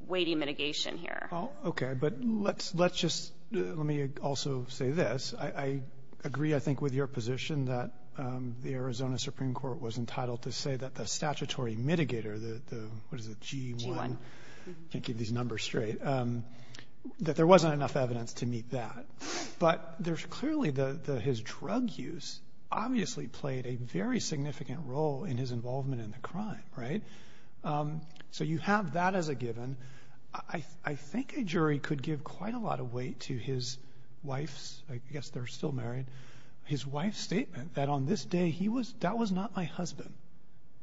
weighty mitigation here. Okay. But let's just — let me also say this. I agree, I think, with your position that the Arizona Supreme Court was entitled to say that the statutory mitigator, the — what is it, G1? G1. Can't keep these numbers straight. That there wasn't enough evidence to meet that. But there's clearly — his drug use obviously played a very significant role in his involvement in the crime, right? So you have that as a given. I think a jury could give quite a lot of weight to his wife's — I guess they're still married — his wife's statement that on this day, he was — that was not my husband.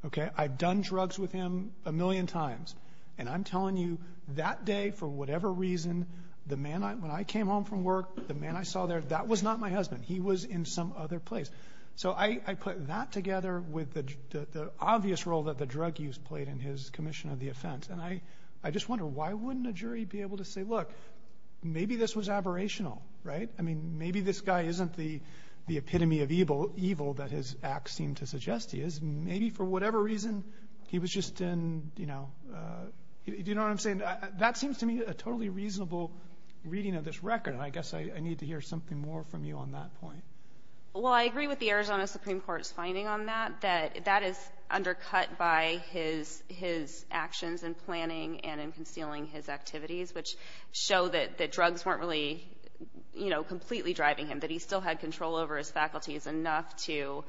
Okay? I've done drugs with him a million times. And I'm telling you, that day, for whatever reason, the man I — when I came home from work, the man I saw there, that was not my husband. He was in some other place. So I put that together with the obvious role that the drug use played in his commission of the offense. And I just wonder, why wouldn't a jury be able to say, look, maybe this was aberrational, right? I mean, maybe this guy isn't the epitome of evil that his acts seem to suggest he is. Maybe for whatever reason, he was just in, you know — do you know what I'm saying? That seems to me a totally reasonable reading of this record. And I guess I need to hear something more from you on that point. Well, I agree with the Arizona Supreme Court's finding on that, that that is undercut by his actions in planning and in concealing his activities, which show that drugs weren't really, you know, completely driving him, that he still had control over his faculties enough to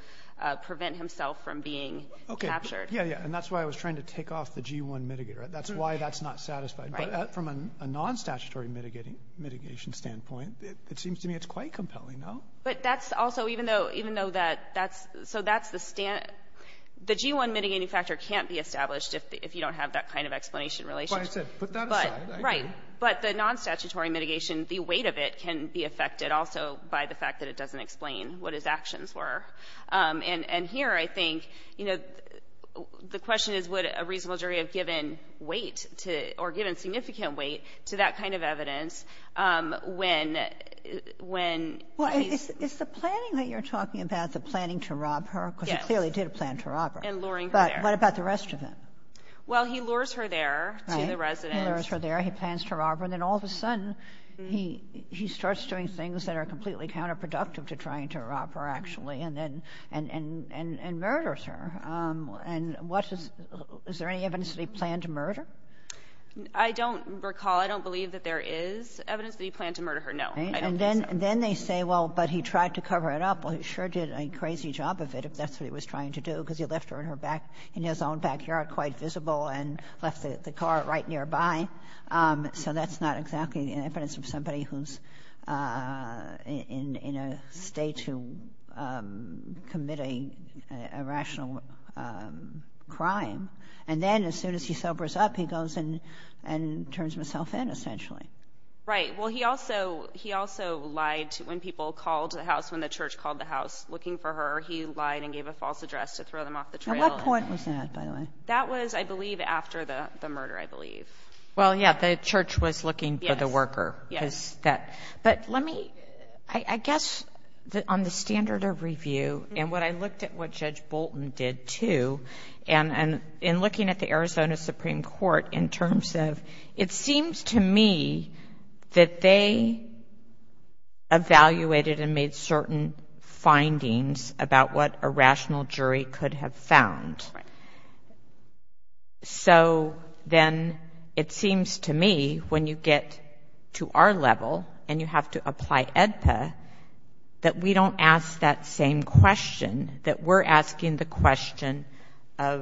prevent himself from being captured. Okay. Yeah, yeah. And that's why I was trying to take off the G1 mitigator. That's why that's not satisfied. But from a non-statutory mitigation standpoint, it seems to me it's quite compelling, no? But that's also — even though — even though that's — so that's the — the G1 mitigating factor can't be established if you don't have that kind of explanation relationship. Well, I said put that aside. Right. But the non-statutory mitigation, the weight of it can be affected also by the fact that it doesn't explain what his actions were. And here I think, you know, the question is would a reasonable jury have given weight to — or given significant weight to that kind of evidence when he's — Well, is the planning that you're talking about the planning to rob her? Yes. Because he clearly did plan to rob her. And luring her there. But what about the rest of him? Well, he lures her there to the residence. Right. He lures her there. He plans to rob her. And then all of a sudden he starts doing things that are completely counterproductive to trying to rob her, actually, and then — and murders her. And what is — is there any evidence that he planned to murder? I don't recall. I don't believe that there is evidence that he planned to murder her. No. I don't think so. And then they say, well, but he tried to cover it up. Well, he sure did a crazy job of it if that's what he was trying to do because he left her in her back — in his own backyard quite visible and left the car right nearby. So that's not exactly evidence of somebody who's in a state to commit a rational crime. And then as soon as he sobers up, he goes and turns himself in, essentially. Right. Well, he also lied to — when people called the house, when the church called the house looking for her, he lied and gave a false address to throw them off the trail. At what point was that, by the way? That was, I believe, after the murder, I believe. Well, yeah, the church was looking for the worker. Yes. Because that — but let me — I guess on the standard of review and what I looked at what Judge Bolton did, too, and in looking at the Arizona Supreme Court in terms of — it seems to me that they evaluated and made certain findings about what a rational jury could have found. Right. So then it seems to me, when you get to our level and you have to apply AEDPA, that we don't ask that same question, that we're asking the question of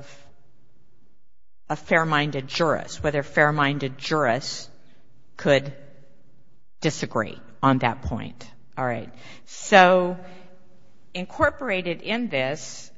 a fair-minded jurist, whether fair-minded jurists could disagree on that point. All right. So incorporated in this,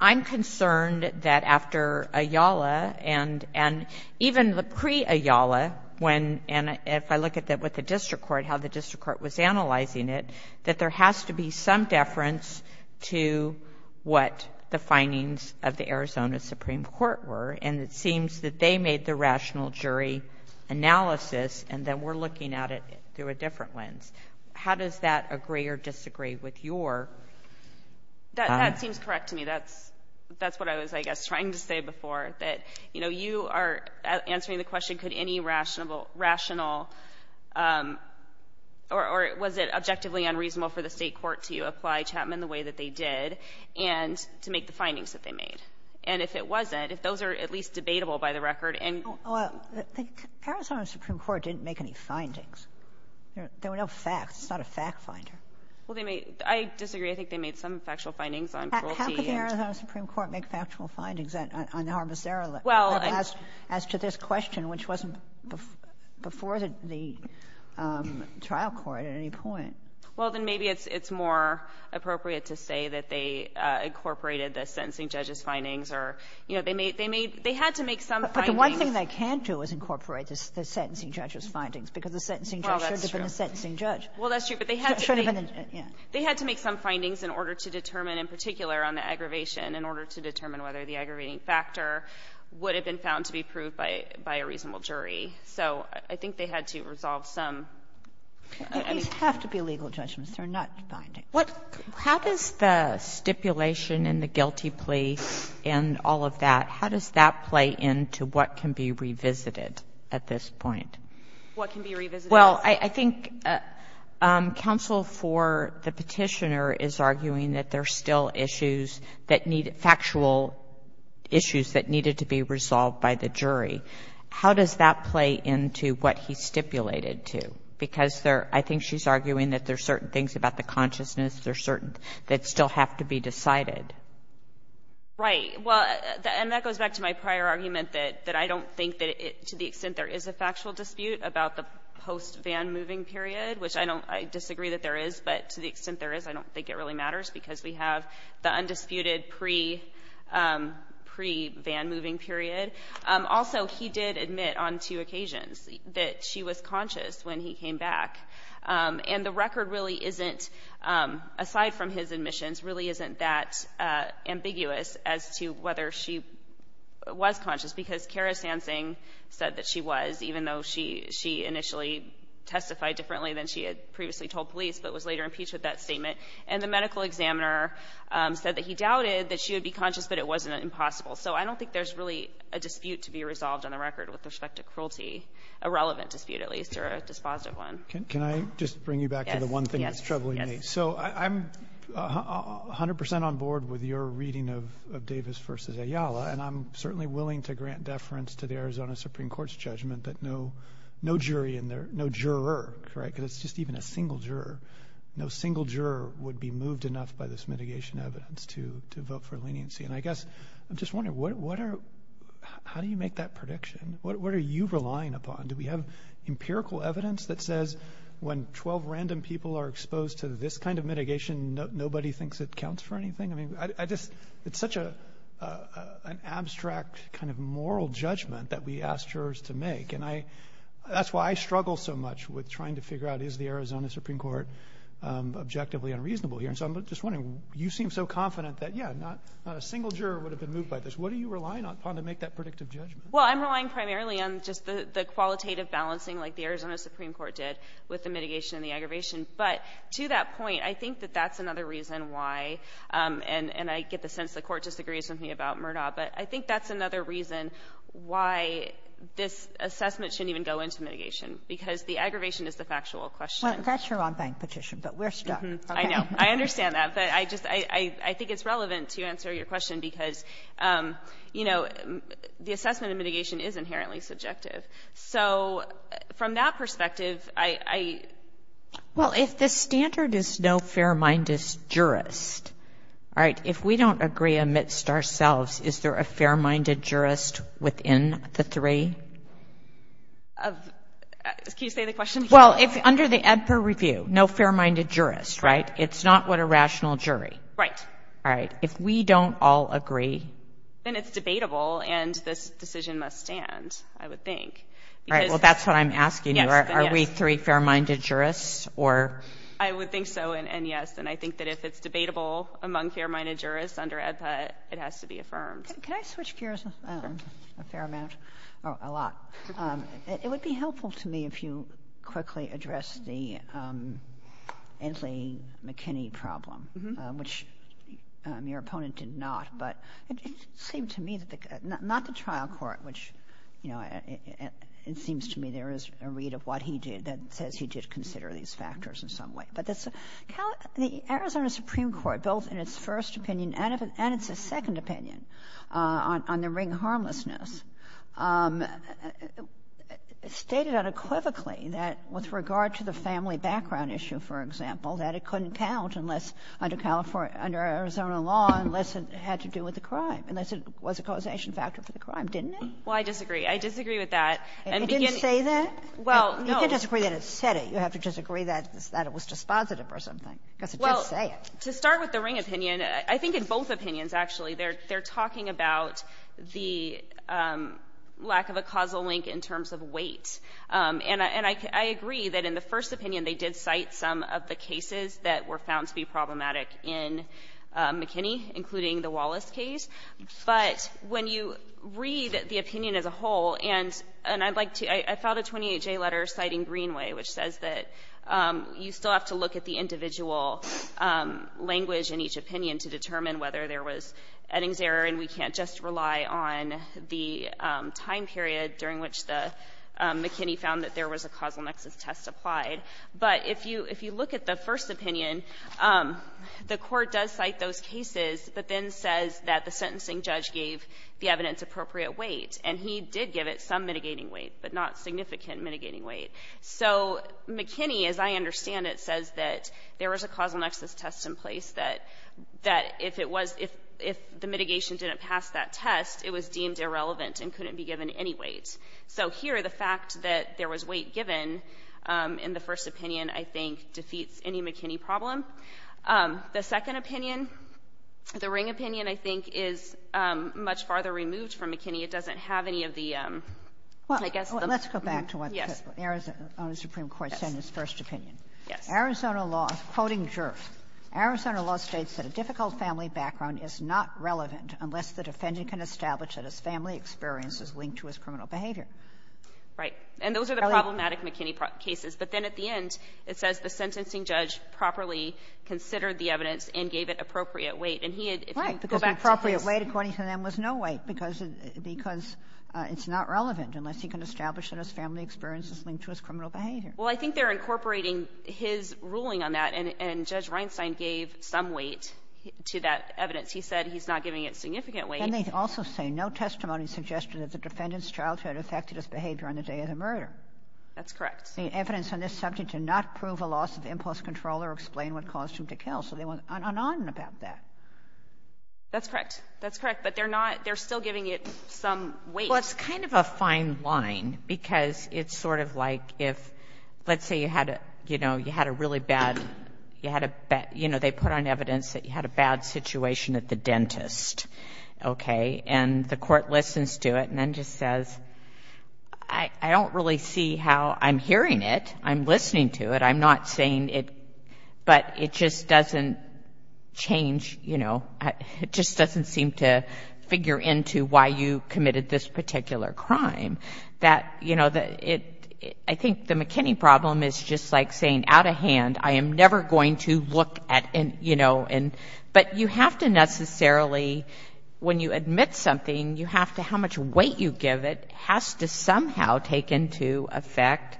I'm concerned that after Ayala and even the pre-Ayala, when — and if I look at that with the district court, how the district court was analyzing it, that there has to be some deference to what the findings of the Arizona Supreme Court were. And it seems that they made the rational jury analysis, and then we're looking at it through a different lens. How does that agree or disagree with your — That seems correct to me. That's what I was, I guess, trying to say before, that, you know, you are answering the question, could any rational — or was it objectively unreasonable for the State court to apply Chapman the way that they did and to make the findings that they made? And if it wasn't, if those are at least debatable by the record and — Well, the Arizona Supreme Court didn't make any findings. There were no facts. It's not a fact finder. Well, they made — I disagree. I think they made some factual findings on cruelty and — How could the Arizona Supreme Court make factual findings on harmless Ayala? Well — As to this question, which wasn't before the trial court at any point. Well, then maybe it's more appropriate to say that they incorporated the sentencing judge's findings or, you know, they made — they had to make some findings — But the one thing they can't do is incorporate the sentencing judge's findings because the sentencing judge should have been the sentencing judge. Well, that's true. But they had to make — Yeah. They had to make some findings in order to determine, in particular, on the aggravation, in order to determine whether the aggravating factor would have been found to be proved by a reasonable jury. So I think they had to resolve some — These have to be legal judgments. They're not findings. How does the stipulation in the guilty plea and all of that, how does that play into what can be revisited at this point? What can be revisited? Well, I think counsel for the petitioner is arguing that there are still issues that need — factual issues that needed to be resolved by the jury. How does that play into what he stipulated to? Because there — I think she's arguing that there are certain things about the consciousness, there are certain — that still have to be decided. Right. Well, and that goes back to my prior argument that I don't think that it — post-van-moving period, which I don't — I disagree that there is, but to the extent there is, I don't think it really matters because we have the undisputed pre-van-moving period. Also, he did admit on two occasions that she was conscious when he came back. And the record really isn't, aside from his admissions, really isn't that ambiguous as to whether she was conscious, because Kara Sansing said that she was, even though she initially testified differently than she had previously told police, but was later impeached with that statement. And the medical examiner said that he doubted that she would be conscious, but it wasn't impossible. So I don't think there's really a dispute to be resolved on the record with respect to cruelty, a relevant dispute at least, or a dispositive one. Can I just bring you back to the one thing that's troubling me? So I'm 100 percent on board with your reading of Davis v. Ayala, and I'm certainly willing to grant deference to the Arizona Supreme Court's judgment that no jury in there, no juror, because it's just even a single juror, no single juror would be moved enough by this mitigation evidence to vote for leniency. And I guess I'm just wondering, how do you make that prediction? What are you relying upon? Do we have empirical evidence that says when 12 random people are exposed to this kind of mitigation, nobody thinks it counts for anything? It's such an abstract kind of moral judgment that we ask jurors to make, and that's why I struggle so much with trying to figure out, is the Arizona Supreme Court objectively unreasonable here? So I'm just wondering, you seem so confident that, yeah, not a single juror would have been moved by this. What are you relying upon to make that predictive judgment? Well, I'm relying primarily on just the qualitative balancing like the Arizona Supreme Court did with the mitigation and the aggravation. But to that point, I think that that's another reason why, and I get the sense the Court disagrees with me about Murdaugh, but I think that's another reason why this assessment shouldn't even go into mitigation, because the aggravation is the factual question. Well, that's your on-bank petition, but we're stuck. I know. I understand that. But I think it's relevant to answer your question because, you know, the assessment of mitigation is inherently subjective. So from that perspective, I — Well, if the standard is no fair-minded jurist, all right, if we don't agree amidst ourselves, is there a fair-minded jurist within the three? Can you say the question again? Well, under the EDPA review, no fair-minded jurist, right? It's not what a rational jury. Right. All right. If we don't all agree — Then it's debatable, and this decision must stand, I would think. All right. Well, that's what I'm asking you. Are we three fair-minded jurists, or — I would think so, and yes. And I think that if it's debatable among fair-minded jurists under EDPA, it has to be affirmed. Can I switch gears a fair amount? A lot. It would be helpful to me if you quickly addressed the Anthony McKinney problem, which your opponent did not, but it seemed to me that the — not the trial court, which, you know, it seems to me there is a read of what he did that says he did consider these factors in some way, but the Arizona Supreme Court, both in its first opinion and its second opinion on the ring harmlessness, stated unequivocally that with regard to the family background issue, for example, that it couldn't count unless — under Arizona law, unless it had to do with the crime, unless it was a causation factor for the crime. Didn't it? Well, I disagree. I disagree with that. It didn't say that? Well, no. You can't disagree that it said it. You have to disagree that it was dispositive or something, because it did say it. Well, to start with the ring opinion, I think in both opinions, actually, they're talking about the lack of a causal link in terms of weight. And I agree that in the first opinion they did cite some of the cases that were found to be problematic in McKinney, including the Wallace case. But when you read the opinion as a whole, and I'd like to — I found a 28J letter citing Greenway, which says that you still have to look at the individual language in each opinion to determine whether there was Eddings error, and we can't just rely on the time period during which McKinney found that there was a causal nexus test applied. But if you look at the first opinion, the Court does cite those cases, but then says that the sentencing judge gave the evidence appropriate weight, and he did give it some mitigating weight, but not significant mitigating weight. So McKinney, as I understand it, says that there was a causal nexus test in place, that if it was — if the mitigation didn't pass that test, it was deemed irrelevant and couldn't be given any weight. So here, the fact that there was weight given in the first opinion, I think, defeats any McKinney problem. The second opinion, the Ring opinion, I think, is much farther removed from McKinney. It doesn't have any of the, I guess, the — Kagan. Well, let's go back to what the Arizona Supreme Court said in its first opinion. Yes. Arizona law, quoting Girff, Arizona law states that a difficult family background is not relevant unless the defendant can establish that his family experience is linked to his criminal behavior. Right. And those are the problematic McKinney cases. But then at the end, it says the sentencing judge properly considered the evidence and gave it appropriate weight. And he had — Right, because the appropriate weight, according to them, was no weight because it's not relevant unless he can establish that his family experience is linked to his criminal behavior. Well, I think they're incorporating his ruling on that, and Judge Reinstein gave some weight to that evidence. He said he's not giving it significant weight. And they also say no testimony suggested that the defendant's childhood affected his behavior on the day of the murder. That's correct. The evidence on this subject did not prove a loss of impulse control or explain what caused him to kill. So they went on and on about that. That's correct. That's correct. But they're not — they're still giving it some weight. Well, it's kind of a fine line because it's sort of like if, let's say, you had a really bad — they put on evidence that you had a bad situation at the dentist. Okay? And the court listens to it and then just says, I don't really see how I'm hearing it. I'm listening to it. I'm not saying it — but it just doesn't change — it just doesn't seem to figure into why you committed this particular crime. I think the McKinney problem is just like saying out of hand, I am never going to look at — but you have to necessarily, when you admit something, you have to — how much weight you give it has to somehow take into effect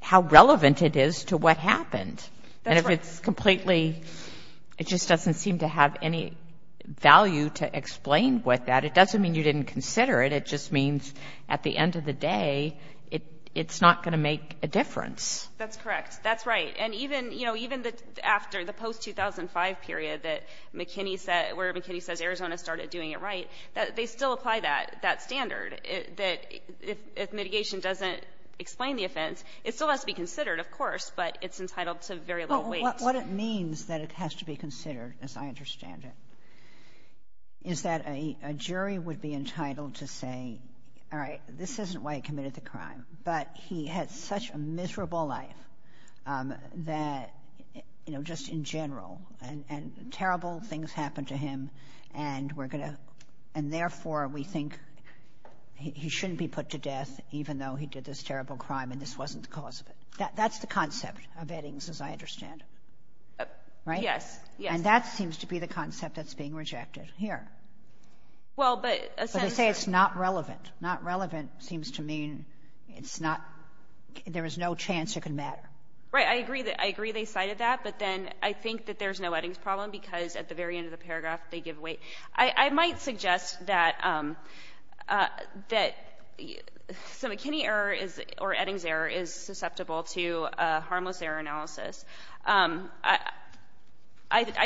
how relevant it is to what happened. And if it's completely — it just doesn't seem to have any value to explain with that. It doesn't mean you didn't consider it. It just means at the end of the day, it's not going to make a difference. That's correct. That's right. And even after the post-2005 period where McKinney says Arizona started doing it right, they still apply that standard that if mitigation doesn't explain the offense, it still has to be considered, of course, but it's entitled to very little weight. Well, what it means that it has to be considered, as I understand it, is that a jury would be entitled to say, all right, this isn't why he committed the crime, but he had such a miserable life that, you know, just in general, and terrible things happened to him, and therefore we think he shouldn't be put to death even though he did this terrible crime and this wasn't the cause of it. That's the concept of Eddings, as I understand it. Yes. Yes. And that seems to be the concept that's being rejected here. Well, but... But they say it's not relevant. Not relevant seems to mean it's not, there is no chance it can matter. Right. I agree they cited that, but then I think that there's no Eddings problem because at the very end of the paragraph they give weight. I might suggest that McKinney error or Eddings error is susceptible to harmless error analysis. I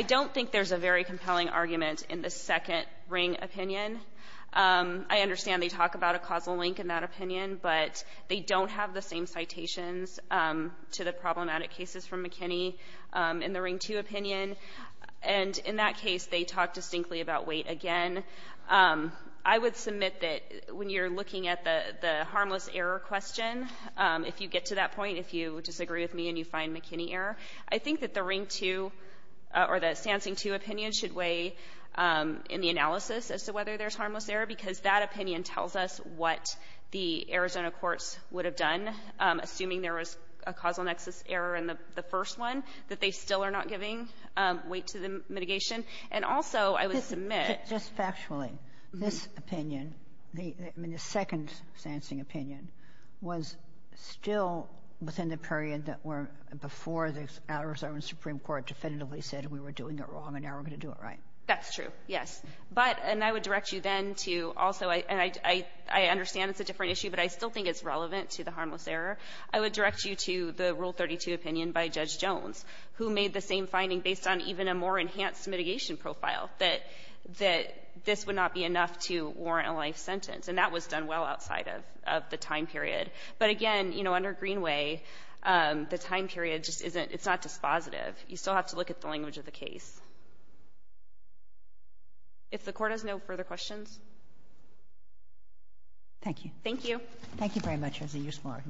don't think there's a very compelling argument in the second ring opinion. I understand they talk about a causal link in that opinion, but they don't have the same citations to the problematic cases from McKinney in the ring two opinion, and in that case they talk distinctly about weight again. I would submit that when you're looking at the harmless error question, if you get to that point, if you disagree with me and you find McKinney error, I think that the ring two or the Sansing two opinion should weigh in the analysis as to whether there's harmless error because that opinion tells us what the Arizona courts would have done, assuming there was a causal nexus error in the first one, that they still are not giving weight to the mitigation. And also I would submit... The second Sansing opinion was still within the period that were before the Arizona Supreme Court definitively said we were doing it wrong and now we're going to do it right. That's true, yes. But, and I would direct you then to also, and I understand it's a different issue, but I still think it's relevant to the harmless error. I would direct you to the Rule 32 opinion by Judge Jones, who made the same finding based on even a more enhanced mitigation profile, that this would not be enough to warrant a life sentence. And that was done well outside of the time period. But again, you know, under Greenway, the time period just isn't, it's not dispositive. You still have to look at the language of the case. If the Court has no further questions. Thank you. Thank you. Thank you very much, Rosie. You're smart.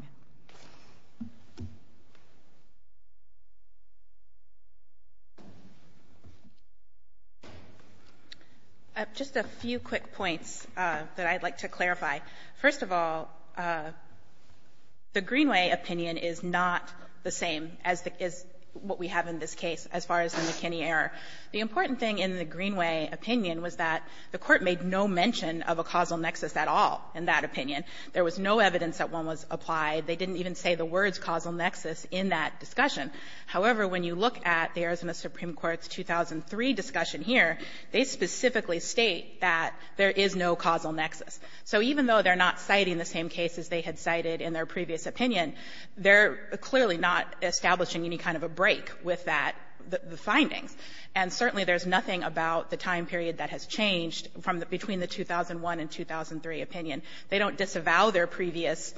Just a few quick points that I'd like to clarify. First of all, the Greenway opinion is not the same as what we have in this case as far as the McKinney error. The important thing in the Greenway opinion was that the Court made no mention of a causal nexus at all in that opinion. There was no evidence that one was applied. They didn't even say the words causal nexus in that discussion. However, when you look at the Arizona Supreme Court's 2003 discussion here, they specifically state that there is no causal nexus. So even though they're not citing the same cases they had cited in their previous opinion, they're clearly not establishing any kind of a break with that, the findings. And certainly there's nothing about the time period that has changed from between the 2001 and 2003 opinion. They don't disavow their previous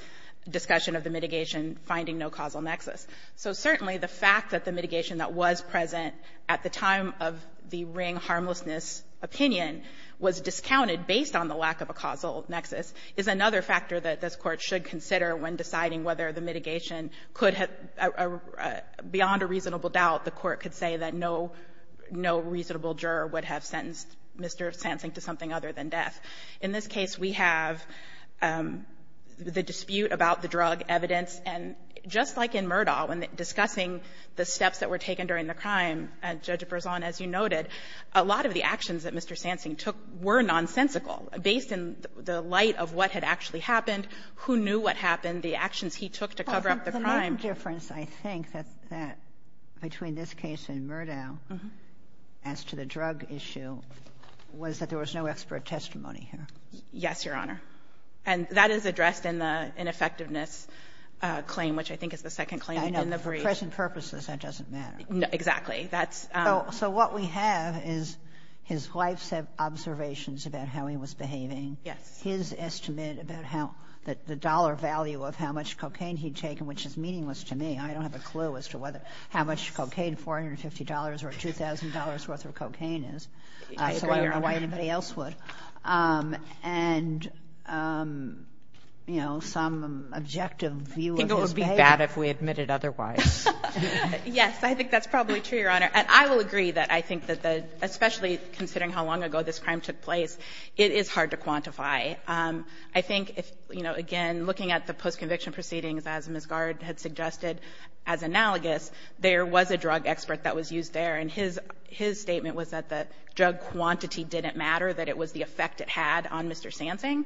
discussion of the mitigation finding no causal nexus. So certainly the fact that the mitigation that was present at the time of the Ring harmlessness opinion was discounted based on the lack of a causal nexus is another factor that this Court should consider when deciding whether the mitigation could have beyond a reasonable doubt, the Court could say that no reasonable juror would have sentenced Mr. Sansing to something other than death. In this case, we have the dispute about the drug evidence. And just like in Murdaugh, when discussing the steps that were taken during the crime, Judge Berzon, as you noted, a lot of the actions that Mr. Sansing took were nonsensical based in the light of what had actually happened, who knew what happened, the actions he took to cover up the crime. The main difference, I think, between this case and Murdaugh as to the drug issue was that there was no expert testimony here. Yes, Your Honor. And that is addressed in the ineffectiveness claim, which I think is the second claim in the brief. I know. For present purposes, that doesn't matter. Exactly. That's — So what we have is his wife's observations about how he was behaving. Yes. His estimate about how the dollar value of how much cocaine he had taken, which is meaningless to me. I don't have a clue as to whether how much cocaine, $450 or $2,000 worth of cocaine is. I agree, Your Honor. So I don't know why anybody else would. And, you know, some objective view of his behavior. I think it would be bad if we admitted otherwise. Yes. I think that's probably true, Your Honor. And I will agree that I think that the — especially considering how long ago this crime took place, it is hard to quantify. I think if, you know, again, looking at the post-conviction proceedings, as Ms. Gard had suggested as analogous, there was a drug expert that was used there. And his statement was that the drug quantity didn't matter, that it was the effect it had on Mr. Sansing.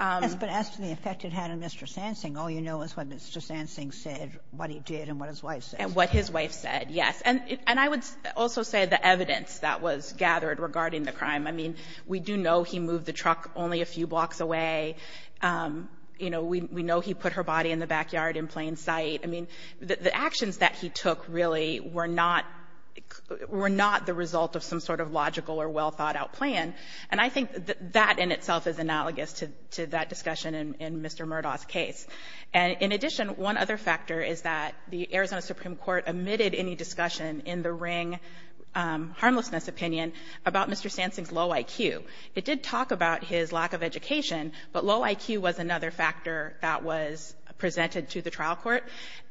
Yes, but as to the effect it had on Mr. Sansing, all you know is what Mr. Sansing said, what he did and what his wife said. And what his wife said, yes. And I would also say the evidence that was gathered regarding the crime. I mean, we do know he moved the truck only a few blocks away. You know, we know he put her body in the backyard in plain sight. I mean, the actions that he took really were not the result of some sort of logical or well-thought-out plan. And I think that in itself is analogous to that discussion in Mr. Murdoch's case. And in addition, one other factor is that the Arizona Supreme Court omitted any discussion in the Ring harmlessness opinion about Mr. Sansing's low IQ. It did talk about his lack of education, but low IQ was another factor that was presented to the trial court.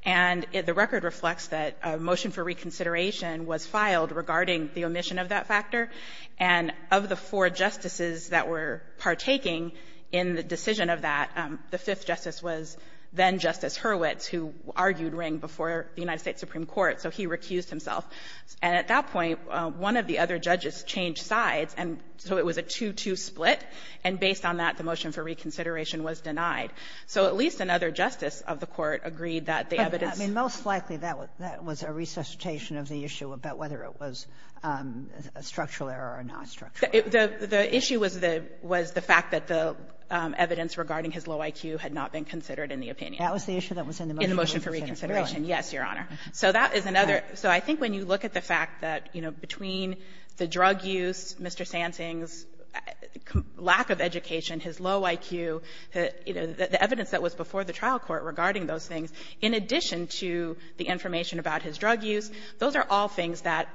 And the record reflects that a motion for reconsideration was filed regarding the omission of that factor. And of the four justices that were partaking in the decision of that, the fifth justice was then-Justice Hurwitz, who argued Ring before the United States Supreme Court. So he recused himself. And at that point, one of the other judges changed sides, and so it was a 2-2 split. And based on that, the motion for reconsideration was denied. So at least another justice of the Court agreed that the evidence- Sotomayor, I mean, most likely that was a resuscitation of the issue about whether it was a structural error or a nonstructural error. The issue was the fact that the evidence regarding his low IQ had not been considered in the opinion. That was the issue that was in the motion for reconsideration. In the motion for reconsideration, yes, Your Honor. So that is another. So I think when you look at the fact that, you know, between the drug use, Mr. Sansing's lack of education, his low IQ, you know, the evidence that was before the trial court regarding those things, in addition to the information about his drug use, those are all things that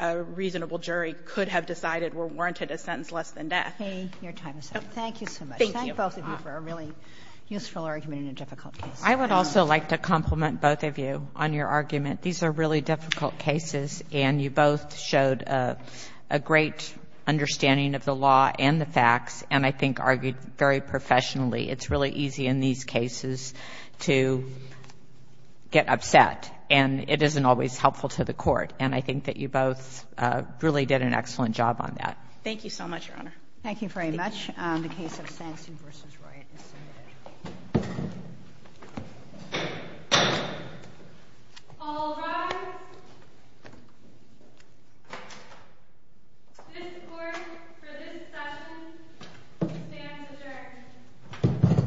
a reasonable jury could have decided were warranted a sentence less than death. Kagan. Your time is up. Thank you so much. Thank you. Thank both of you for a really useful argument in a difficult case. I would also like to compliment both of you on your argument. These are really difficult cases, and you both showed a great understanding of the law and the facts, and I think argued very professionally. It's really easy in these cases to get upset, and it isn't always helpful to the court. And I think that you both really did an excellent job on that. Thank you so much, Your Honor. Thank you very much. The case of Sansing v. Roy is submitted. All rise. This court, for this session, stands adjourned.